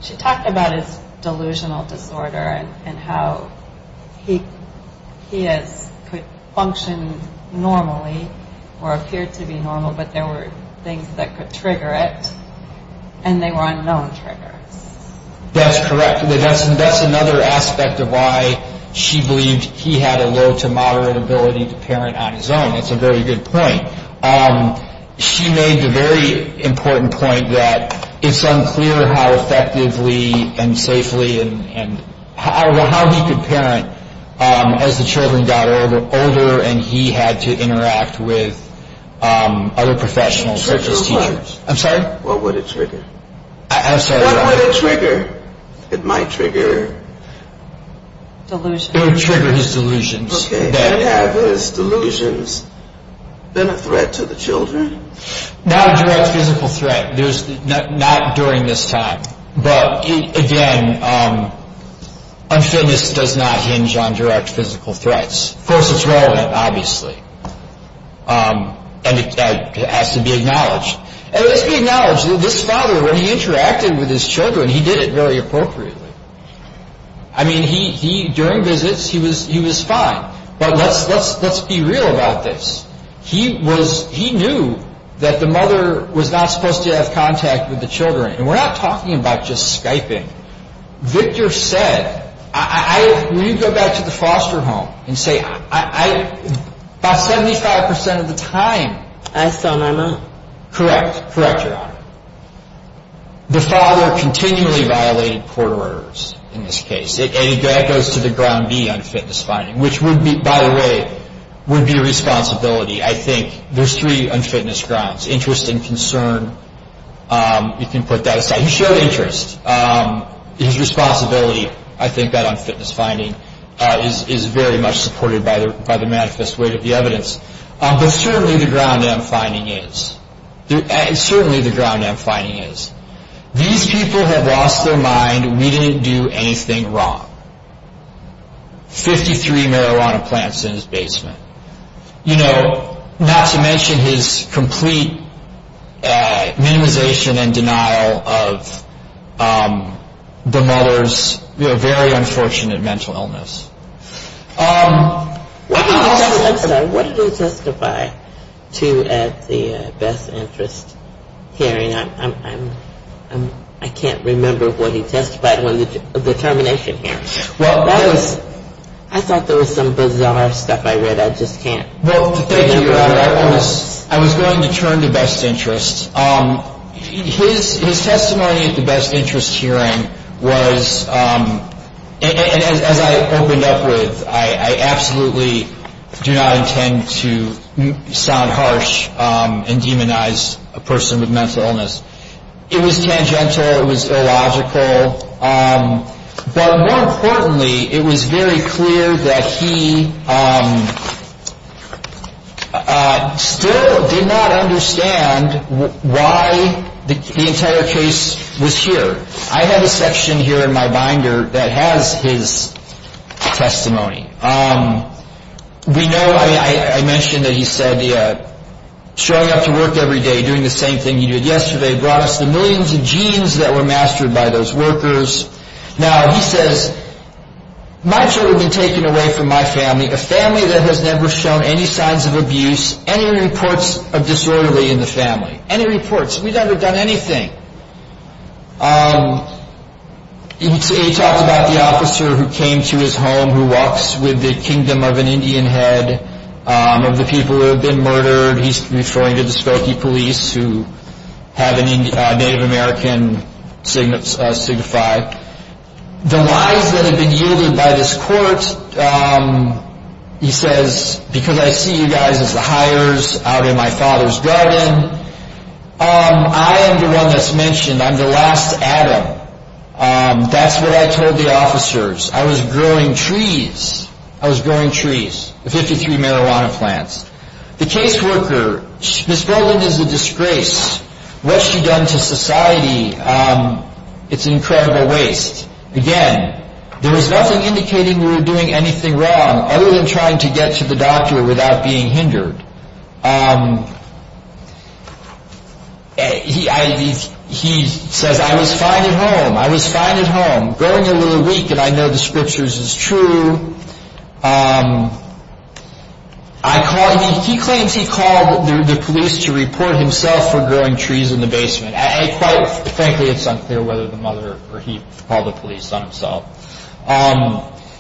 she talked about his delusional disorder and how he could function normally or appear to be normal, but there were things that could trigger it, and they were unknown triggers. That's correct. That's another aspect of why she believes he had a low to moderate ability to parent on his own. That's a very good point. She made the very important point that it's unclear how effectively and safely and how he could parent as the children got older and he had to interact with other professionals. What would it trigger? I'm sorry? What would it trigger? It might trigger delusions. It would trigger his delusions. Okay. Yeah, but is delusions a threat to the children? Not a direct physical threat. Not during this time. But, again, unfitness does not hinge on direct physical threats. Of course, it's relative, obviously. And it has to be acknowledged. And it has to be acknowledged that this father, when he interacted with his children, he did it very appropriately. I mean, he, during visits, he was fine. But let's be real about this. He was, he knew that the mother was not supposed to have contact with the children. And we're not talking about just Skyping. Victor said, when you go back to the foster home and say, I, about 75% of the time. Correct. Correct, Your Honor. The father continually violated court orders in this case. And that goes to the ground being unfitness finding, which would be, by the way, would be a responsibility. I think there's three unfitness grounds, interest and concern, if you put that aside. He showed interest. His responsibility, I think, on unfitness finding is very much supported by the manifest weight of the evidence. But certainly the ground unfitness finding is. Certainly the ground unfitness finding is. These people have lost their mind. We didn't do anything wrong. Fifty-three marijuana plants in his basement. You know, NASA mentioned his complete immunization and denial of the mother's very unfortunate mental illness. What did he testify to at the best interest hearing? I can't remember what he testified in the determination hearing. I thought there was some bizarre stuff I read. I just can't. Well, thank you, Your Honor. I was going to turn to best interests. His testimony at the best interest hearing was, as I opened up with, I absolutely do not intend to sound harsh and demonize a person with mental illness. It was tangential. It was illogical. But more importantly, it was very clear that he still did not understand why the entire case was here. I have a section here in my binder that has his testimony. I mentioned that he said, showing up to work every day, doing the same thing he did yesterday, brought us the millions of genes that were mastered by those workers. Now, he says, my children have been taken away from my family, the family that has never shown any signs of abuse, any reports of disorderly in the family. Any reports. We've never done anything. He talked about the officer who came to his home, who walks with the kingdom of an Indian head, of the people who have been murdered. He's referring to the Spokane police who have a Native American signified. The lies that have been yielded by this court, he says, because I see you guys as the hires out in my father's garden. I am the one that's mentioned. I'm the last Adam. That's what I told the officers. I was growing trees. I was growing trees. The 53 marijuana plants. The caseworker, this woman is a disgrace. What she's done to society, it's an incredible waste. Again, there was nothing indicating we were doing anything wrong, other than trying to get to the doctor without being hindered. He said, I was fine at home. I was fine at home. Growing a little weak, and I know the scriptures is true. He claims he called the police to report himself for growing trees in the basement. Quite frankly, it's unclear whether the mother or he called the police on himself.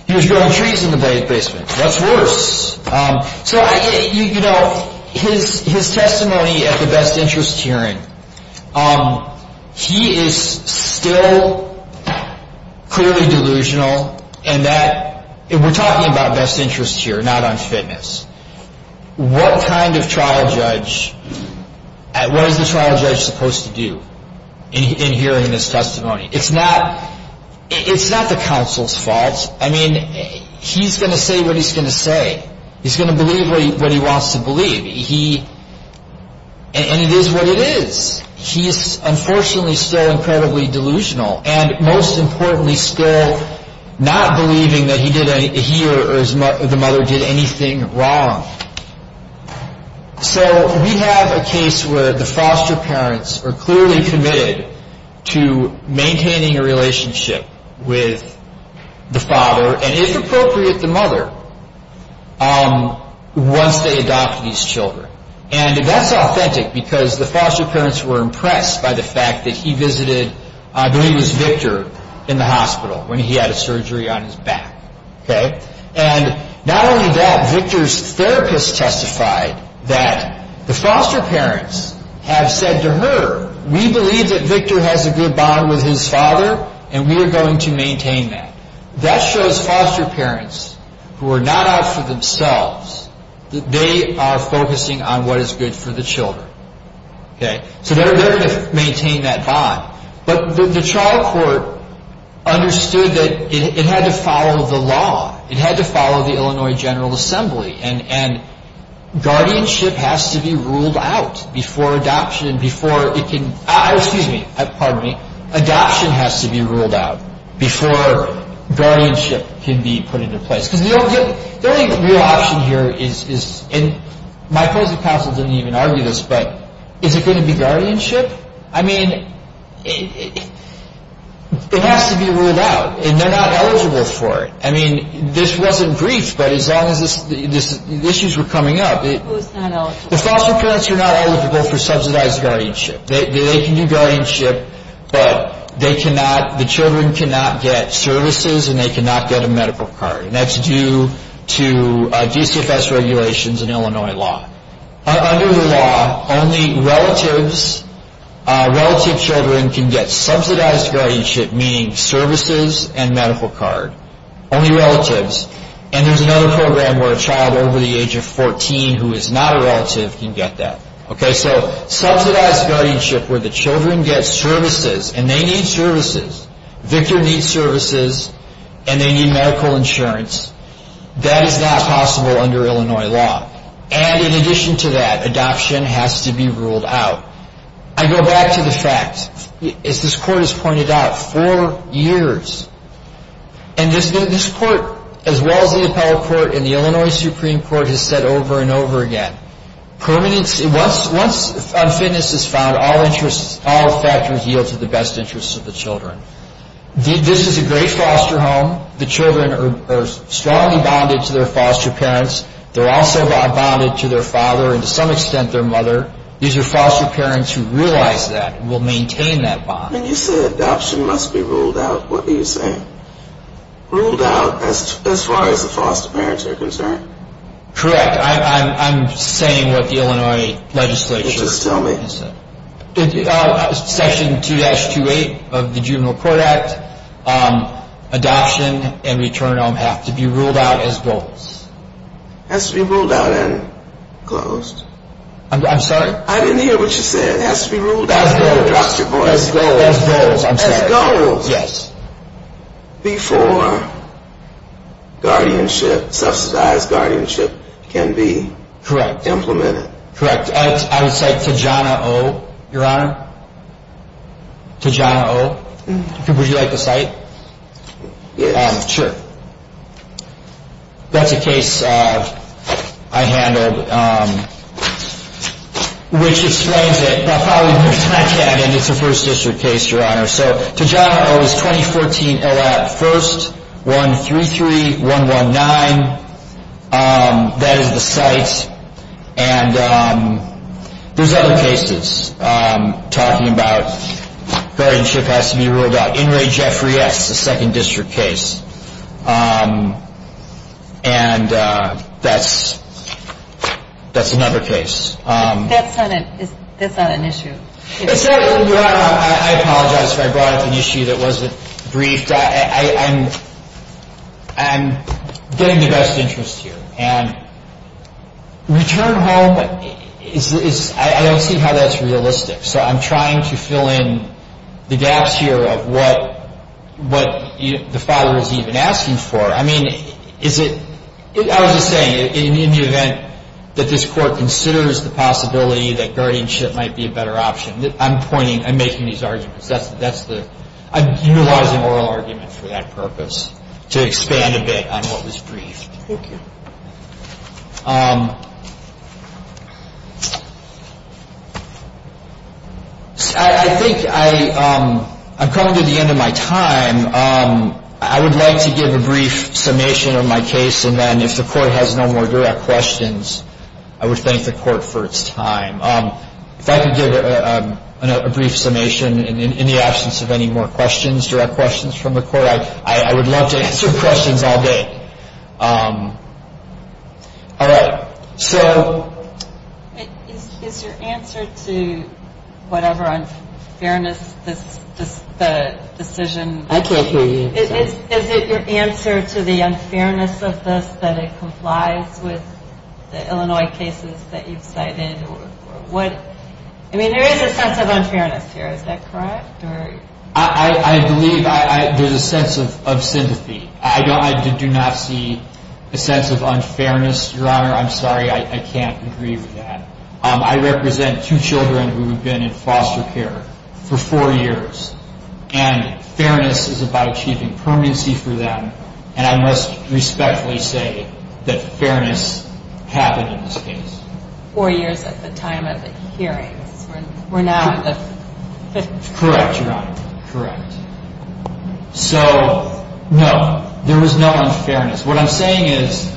He was growing trees in the basement. What's worse? His testimony at the best interest hearing, he is still clearly delusional, and we're talking about best interest here, not on fitness. What kind of trial judge, what is a trial judge supposed to do in hearing this testimony? It's not the counsel's fault. I mean, he's going to say what he's going to say. He's going to believe what he wants to believe, and it is what it is. He is unfortunately still incredibly delusional, and most importantly, still not believing that he or the mother did anything wrong. We have a case where the foster parents are clearly committed to maintaining a relationship with the father, and if appropriate, the mother, once they adopt these children. And that's authentic, because the foster parents were impressed by the fact that he visited, I believe it was Victor, in the hospital when he had a surgery on his back. And not only that, Victor's therapist testified that the foster parents have said to her, we believe that Victor has a good bond with his father, and we are going to maintain that. That shows foster parents, who are not out for themselves, that they are focusing on what is good for the children. So they're going to maintain that bond. But the trial court understood that it had to follow the law. It had to follow the Illinois General Assembly, and guardianship has to be ruled out before adoption, excuse me, pardon me, adoption has to be ruled out before guardianship can be put into place. The only real option here is, and I suppose the counsel didn't even argue this, but is it going to be guardianship? I mean, it has to be ruled out, and they're not eligible for it. I mean, this wasn't brief, but as long as these issues were coming up. The foster parents are not eligible for subsidized guardianship. They can do guardianship, but the children cannot get services and they cannot get a medical card, and that's due to DCFS regulations and Illinois law. Under the law, only relative children can get subsidized guardianship, meaning services and medical card. Only relatives. And there's another program where a child over the age of 14 who is not a relative can get that. Okay, so subsidized guardianship where the children get services and they need services, Victor needs services, and they need medical insurance, that is not possible under Illinois law. And in addition to that, adoption has to be ruled out. I go back to the fact, as this court has pointed out, four years. And this court, as well as the appellate court and the Illinois Supreme Court, has said over and over again, once unfitness is found, all factors yield to the best interests of the children. This is a great foster home. The children are strongly bonded to their foster parents. They're also bonded to their father and to some extent their mother. These are foster parents who realize that and will maintain that bond. When you said adoption must be ruled out, what were you saying? Ruled out as far as the foster parents are concerned? Correct. I'm saying what the Illinois legislature said. Just tell me. Section 2-28 of the Juvenile Court Act, adoption and return home have to be ruled out as both. Has to be ruled out and closed. I'm sorry? I didn't hear what you said. It has to be ruled out as both. As both, I'm sorry. As both. Yes. Before guardianship, subsidized guardianship, can be implemented. Correct. I would say Tijana O., Your Honor. Tijana O. Would you like to cite? Yes. Sure. That's a case I handled. Which explains it. It's a first district case, Your Honor. So Tijana O. is 2014, 1-33-119. That is the site. And there's other cases. Talking about guardianship has to be ruled out. In reject reacts, the second district case. And that's another case. That's not an issue. I apologize if I brought up an issue that wasn't briefed. I'm getting the best interest here. And return home, I don't see how that's realistic. So I'm trying to fill in the gaps here of what the father is even asking for. I mean, I was just saying, in the event that this court considers the possibility that guardianship might be a better option, I'm pointing, I'm making these arguments. I'm utilizing oral arguments for that purpose, to expand a bit on what was briefed. I think I'm coming to the end of my time. I would like to give a brief summation of my case. And then if the court has no more direct questions, I would thank the court for its time. If I can give a brief summation in the absence of any more questions, direct questions from the court, I would love to answer questions all day. All right. Is your answer to whatever unfairness the decision? I can't hear you. Is it your answer to the unfairness of this that it complies with the Illinois cases that you cited? I mean, there is a sense of unfairness here. Is that correct? I believe there's a sense of sympathy. I do not see a sense of unfairness, Your Honor. I'm sorry, I can't agree with that. I represent two children who have been in foster care for four years. And fairness is about achieving permanency for them. And I must respectfully say that fairness happened in this case. Four years at the time of the hearing. We're now at the fifth year. Correct, Your Honor. Correct. So, no, there is no unfairness. What I'm saying is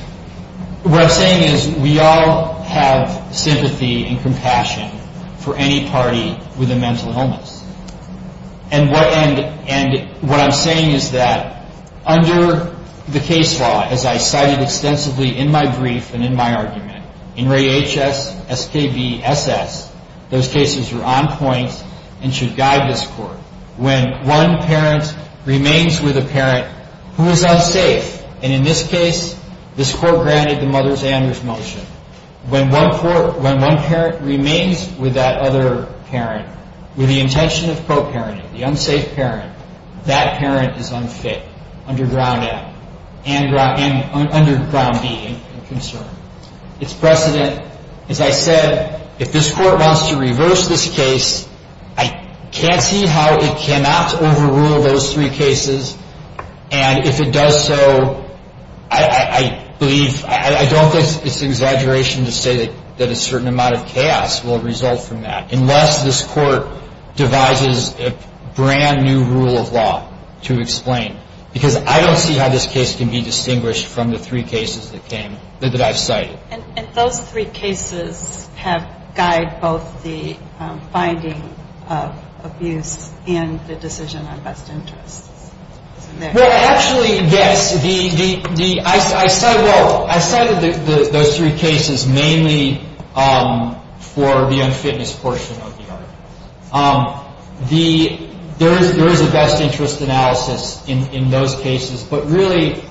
we all have sympathy and compassion for any party with a mental illness. And what I'm saying is that under the case law, as I cited extensively in my brief and in my argument, in Ray HS, SKB, SS, those cases are on point and should guide this court. When one parent remains with a parent who is unsafe, and in this case, this court granted the Mother's Anders motion, when one parent remains with that other parent with the intention of co-parenting, the unsafe parent, that parent is unfit, under ground A, and under ground B in concern. It's precedent. As I said, if this court wants to reverse this case, I can't see how it cannot overrule those three cases. And if it does so, I don't think it's an exaggeration to say that a certain amount of chaos will result from that, unless this court devises a brand new rule of law to explain. Because I don't see how this case can be distinguished from the three cases that I've cited. And those three cases have guided both the finding of abuse and the decision on best interest. Well, actually, again, I cited those three cases mainly for the unfitness portion of the argument. There is a best interest analysis in those cases. But really,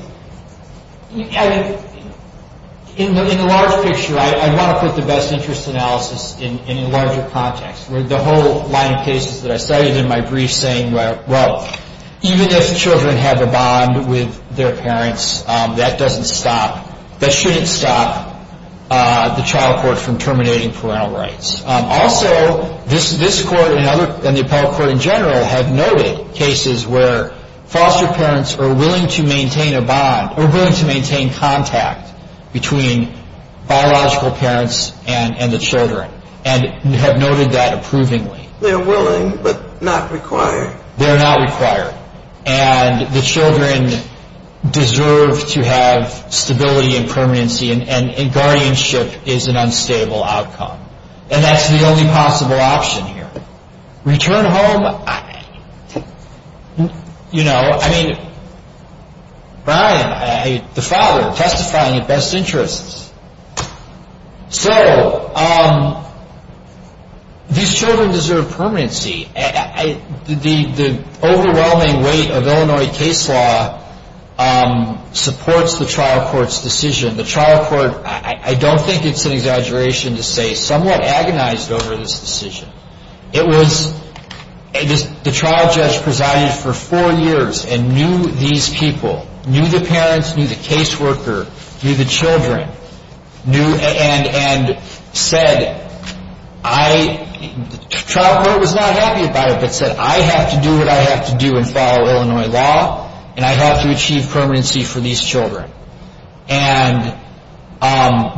in the larger picture, I want to put the best interest analysis in the larger context. There's the whole line of cases that I studied in my brief saying, well, even if children have a bond with their parents, that doesn't stop, that shouldn't stop the child court from terminating parental rights. Also, this court and the appellate court in general have noted cases where foster parents are willing to maintain a bond, or willing to maintain contact between biological parents and the children, and have noted that approvingly. They're willing, but not required. They're not required. And the children deserve to have stability and permanency, and guardianship is an unstable outcome. And that's the only possible option here. Return home? You know, Brian, the father testifying at best interests. So, these children deserve permanency. The overwhelming weight of Illinois case law supports the trial court's decision. The trial court, I don't think it's an exaggeration to say, somewhat agonized over this decision. It was, the trial judge presided for four years and knew these people, knew the parents, knew the case worker, knew the children, and said, I, the trial court was not happy about it, but said, I have to do what I have to do and follow Illinois law, and I have to achieve permanency for these children. And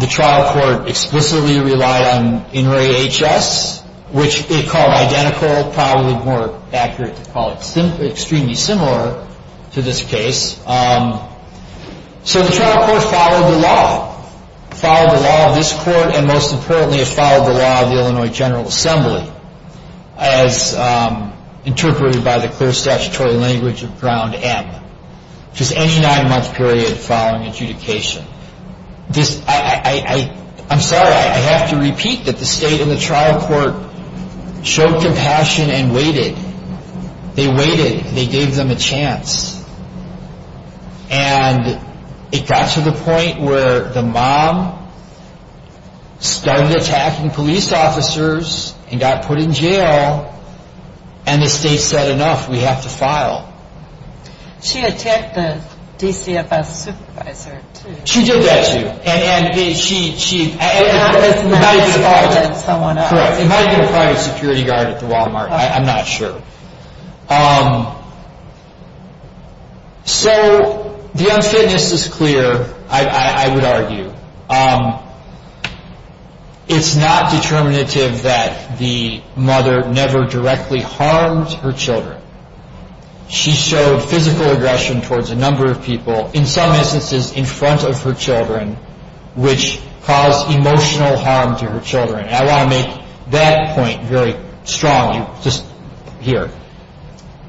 the trial court explicitly relied on In Re HS, which they call identical, probably more accurate to call it extremely similar to this case. So, the trial court followed the law, followed the law of this court, and most importantly, it followed the law of the Illinois General Assembly, as interpreted by the clear statutory language of Ground M, which is any nine-month period following adjudication. I'm sorry, I have to repeat that the state and the trial court showed compassion and waited. They waited. They gave them a chance. And it got to the point where the mom started attacking police officers and got put in jail, and the state said, enough, we have to file. She attacked the DCFS supervisor, too. She did that to you. It might be a private security guard at the Walmart. I'm not sure. So, the unfitness is clear, I would argue. It's not determinative that the mother never directly harms her children. She showed physical aggression towards a number of people, in some instances in front of her children, which caused emotional harm to her children. And I want to make that point very strong, just here.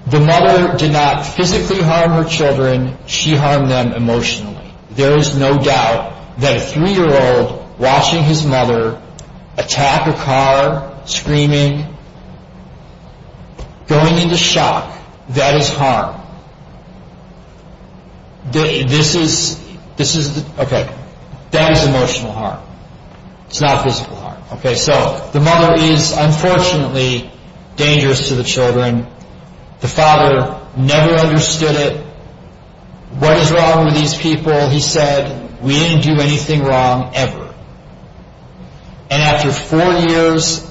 The mother did not physically harm her children. She harmed them emotionally. There is no doubt that a three-year-old watching his mother attack a car, screaming, going into shock, that is harm. That is emotional harm. It's not physical harm. So, the mother is, unfortunately, dangerous to the children. The father never understood it. What is wrong with these people? He said, we didn't do anything wrong, ever. And after four years,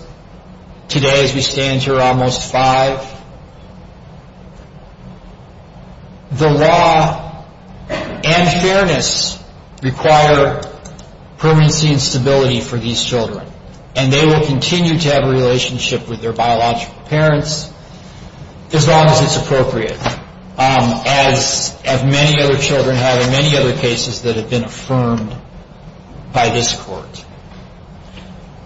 today as we stand here, almost five, the law and fairness require permanency and stability for these children. And they will continue to have a relationship with their biological parents, as long as it's appropriate, as many other children have, and many other cases that have been affirmed by this Court.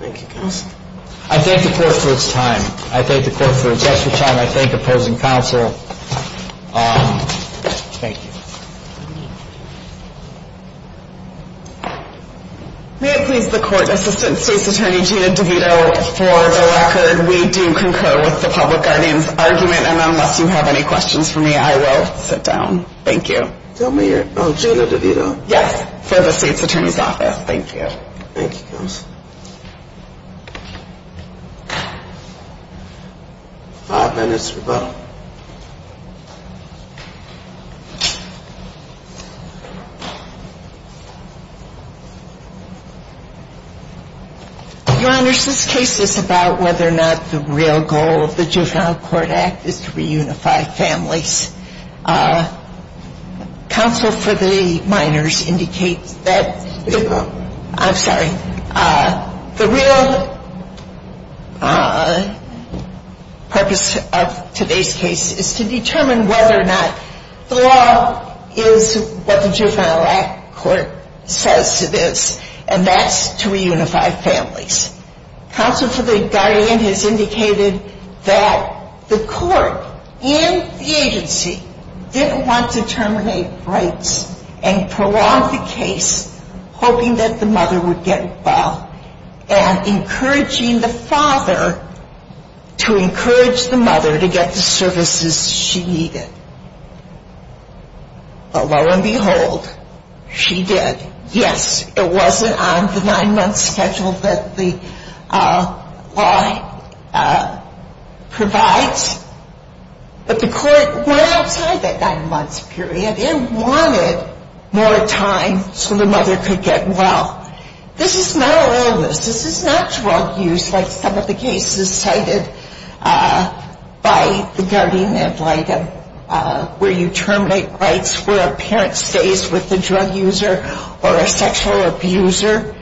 I thank the Court for its time. I thank the Court for its just-in-time. I thank the opposing counsel. Thank you. May it please the Court, Assistant State's Attorney Gina DeVito, for the record, we do concur with the public guardian's argument. And unless you have any questions for me, I will sit down. Thank you. Tell me, Gina DeVito. Yes, for the State's Attorney's Office. Thank you. Thank you. Five minutes to vote. Your Honors, this case is about whether or not the real goal of the Juvenile Court Act is to reunify families. Counsel for the minors indicates that... I'm sorry. The real purpose of today's case is to determine whether or not the law is what the Juvenile Act says it is, and that's to reunify families. Counsel for the guardian has indicated that the Court and the agency did want to terminate rights and prolong the case, hoping that the mother would get involved, and encouraging the father to encourage the mother to get the services she needed. But lo and behold, she did. Yes, it wasn't on the nine-month schedule that the law provides. But the Court went outside that nine-month period and wanted more time so the mother could get well. This is not an illness. This is not drug use, like some of the cases cited by the guardian ad litem, where you terminate rights where a parent stays with the drug user or a sexual abuser.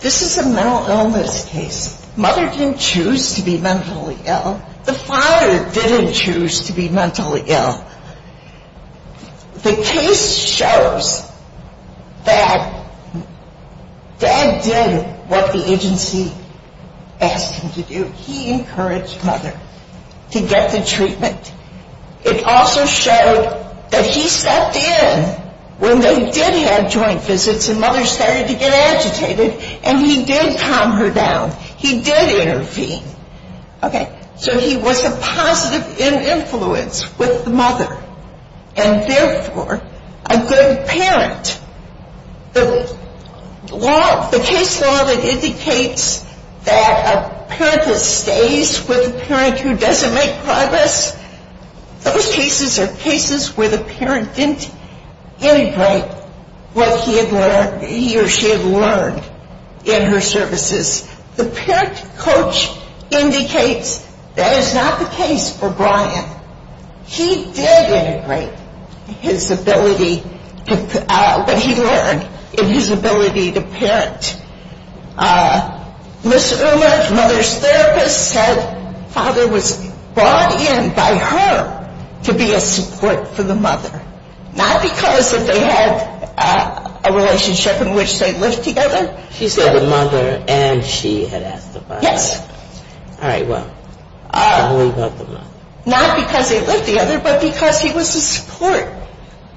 This is a mental illness case. Mother didn't choose to be mentally ill. The father didn't choose to be mentally ill. The case shows that dad did what the agency asked him to do. He encouraged mother to get the treatment. It also showed that he stepped in when they did have joint visits and mother started to get agitated, and he did calm her down. He did intervene. Okay. So he was a positive influence with the mother, and therefore a good parent. The case law that indicates that a parent stays with a parent who doesn't make progress, those cases are cases where the parent didn't integrate what he or she had learned in her services. The parent coach indicates that is not the case for Brian. He did integrate what he learned in his ability to parent. Ms. Ulmer's mother's therapist said father was brought in by her to be a support to the mother, not because that they had a relationship in which they lived together. She said the mother and she had asked the father. Yes. All right. Well, who involved the mother? Not because they lived together, but because he was a support.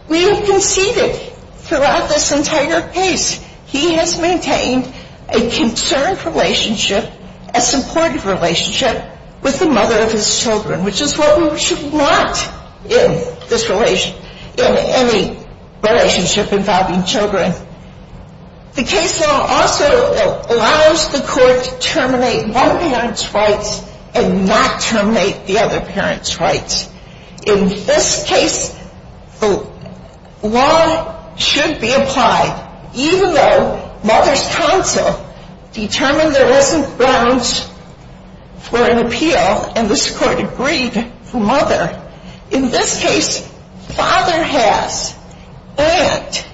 We have conceded throughout this entire page. He has maintained a concerned relationship, a supportive relationship with the mother of his children, which is what we should want in any relationship involving children. The case law also allows the court to terminate one parent's rights and not terminate the other parent's rights. In this case, the law should be applied, even though mother's counsel determined there wasn't grounds for an appeal, and this court agreed to mother. In this case, father has, and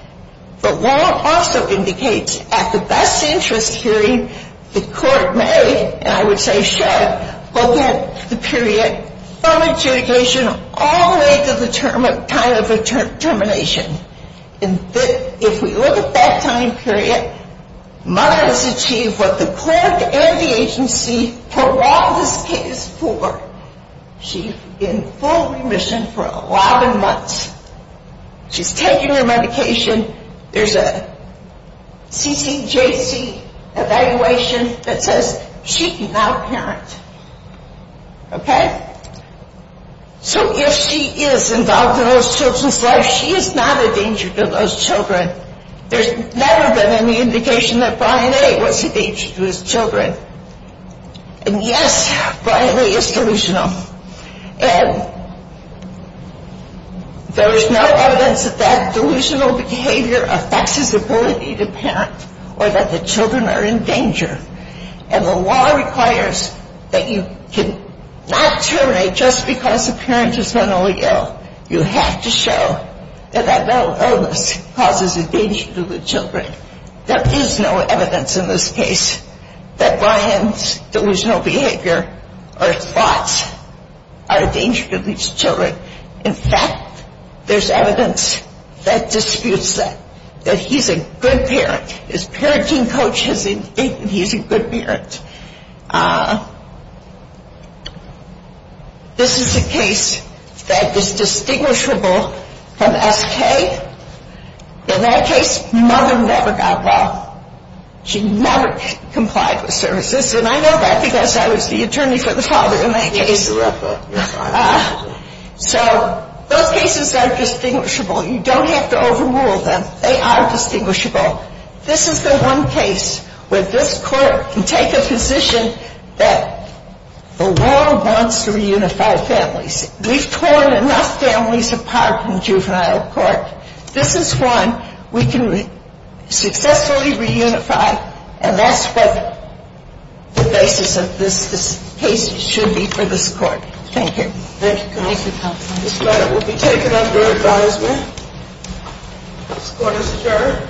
the law also indicates at the best interest hearing, the court may, and I would say should, but that's the period from adjudication all the way to the time of termination. And if we look at that time period, mother has achieved what the court and the agency for all this case for. She's in full remission for 11 months. She's taking her medication. There's a CCJC evaluation that says she's not a parent. Okay? So if she is involved in those children's lives, she is not a danger to those children. There's never been any indication that Brian A. was a danger to his children. And yes, Brian A. is delusional. And there is no evidence that that delusional behavior affects his ability to parent, or that the children are in danger. And the law requires that you cannot terminate just because the parent is mentally ill. You have to show that that mental illness causes a danger to the children. There is no evidence in this case that Brian's delusional behavior or thoughts are a danger to these children. In fact, there's evidence that disputes that he's a good parent. His parenting coach has been thinking he's a good parent. This is a case that is distinguishable from F.A. In that case, mother never got involved. She never complied with services, and I know that because I was the attorney for the father in that case. So those cases are distinguishable. You don't have to overrule them. They are distinguishable. This is the one case where this court can take a position that the law wants to reunify families. We've torn enough families apart in juvenile court. This is one we can successfully reunify, and that's what the basis of this case should be for this court. Thank you. This letter will be taken under advisement. Court is adjourned.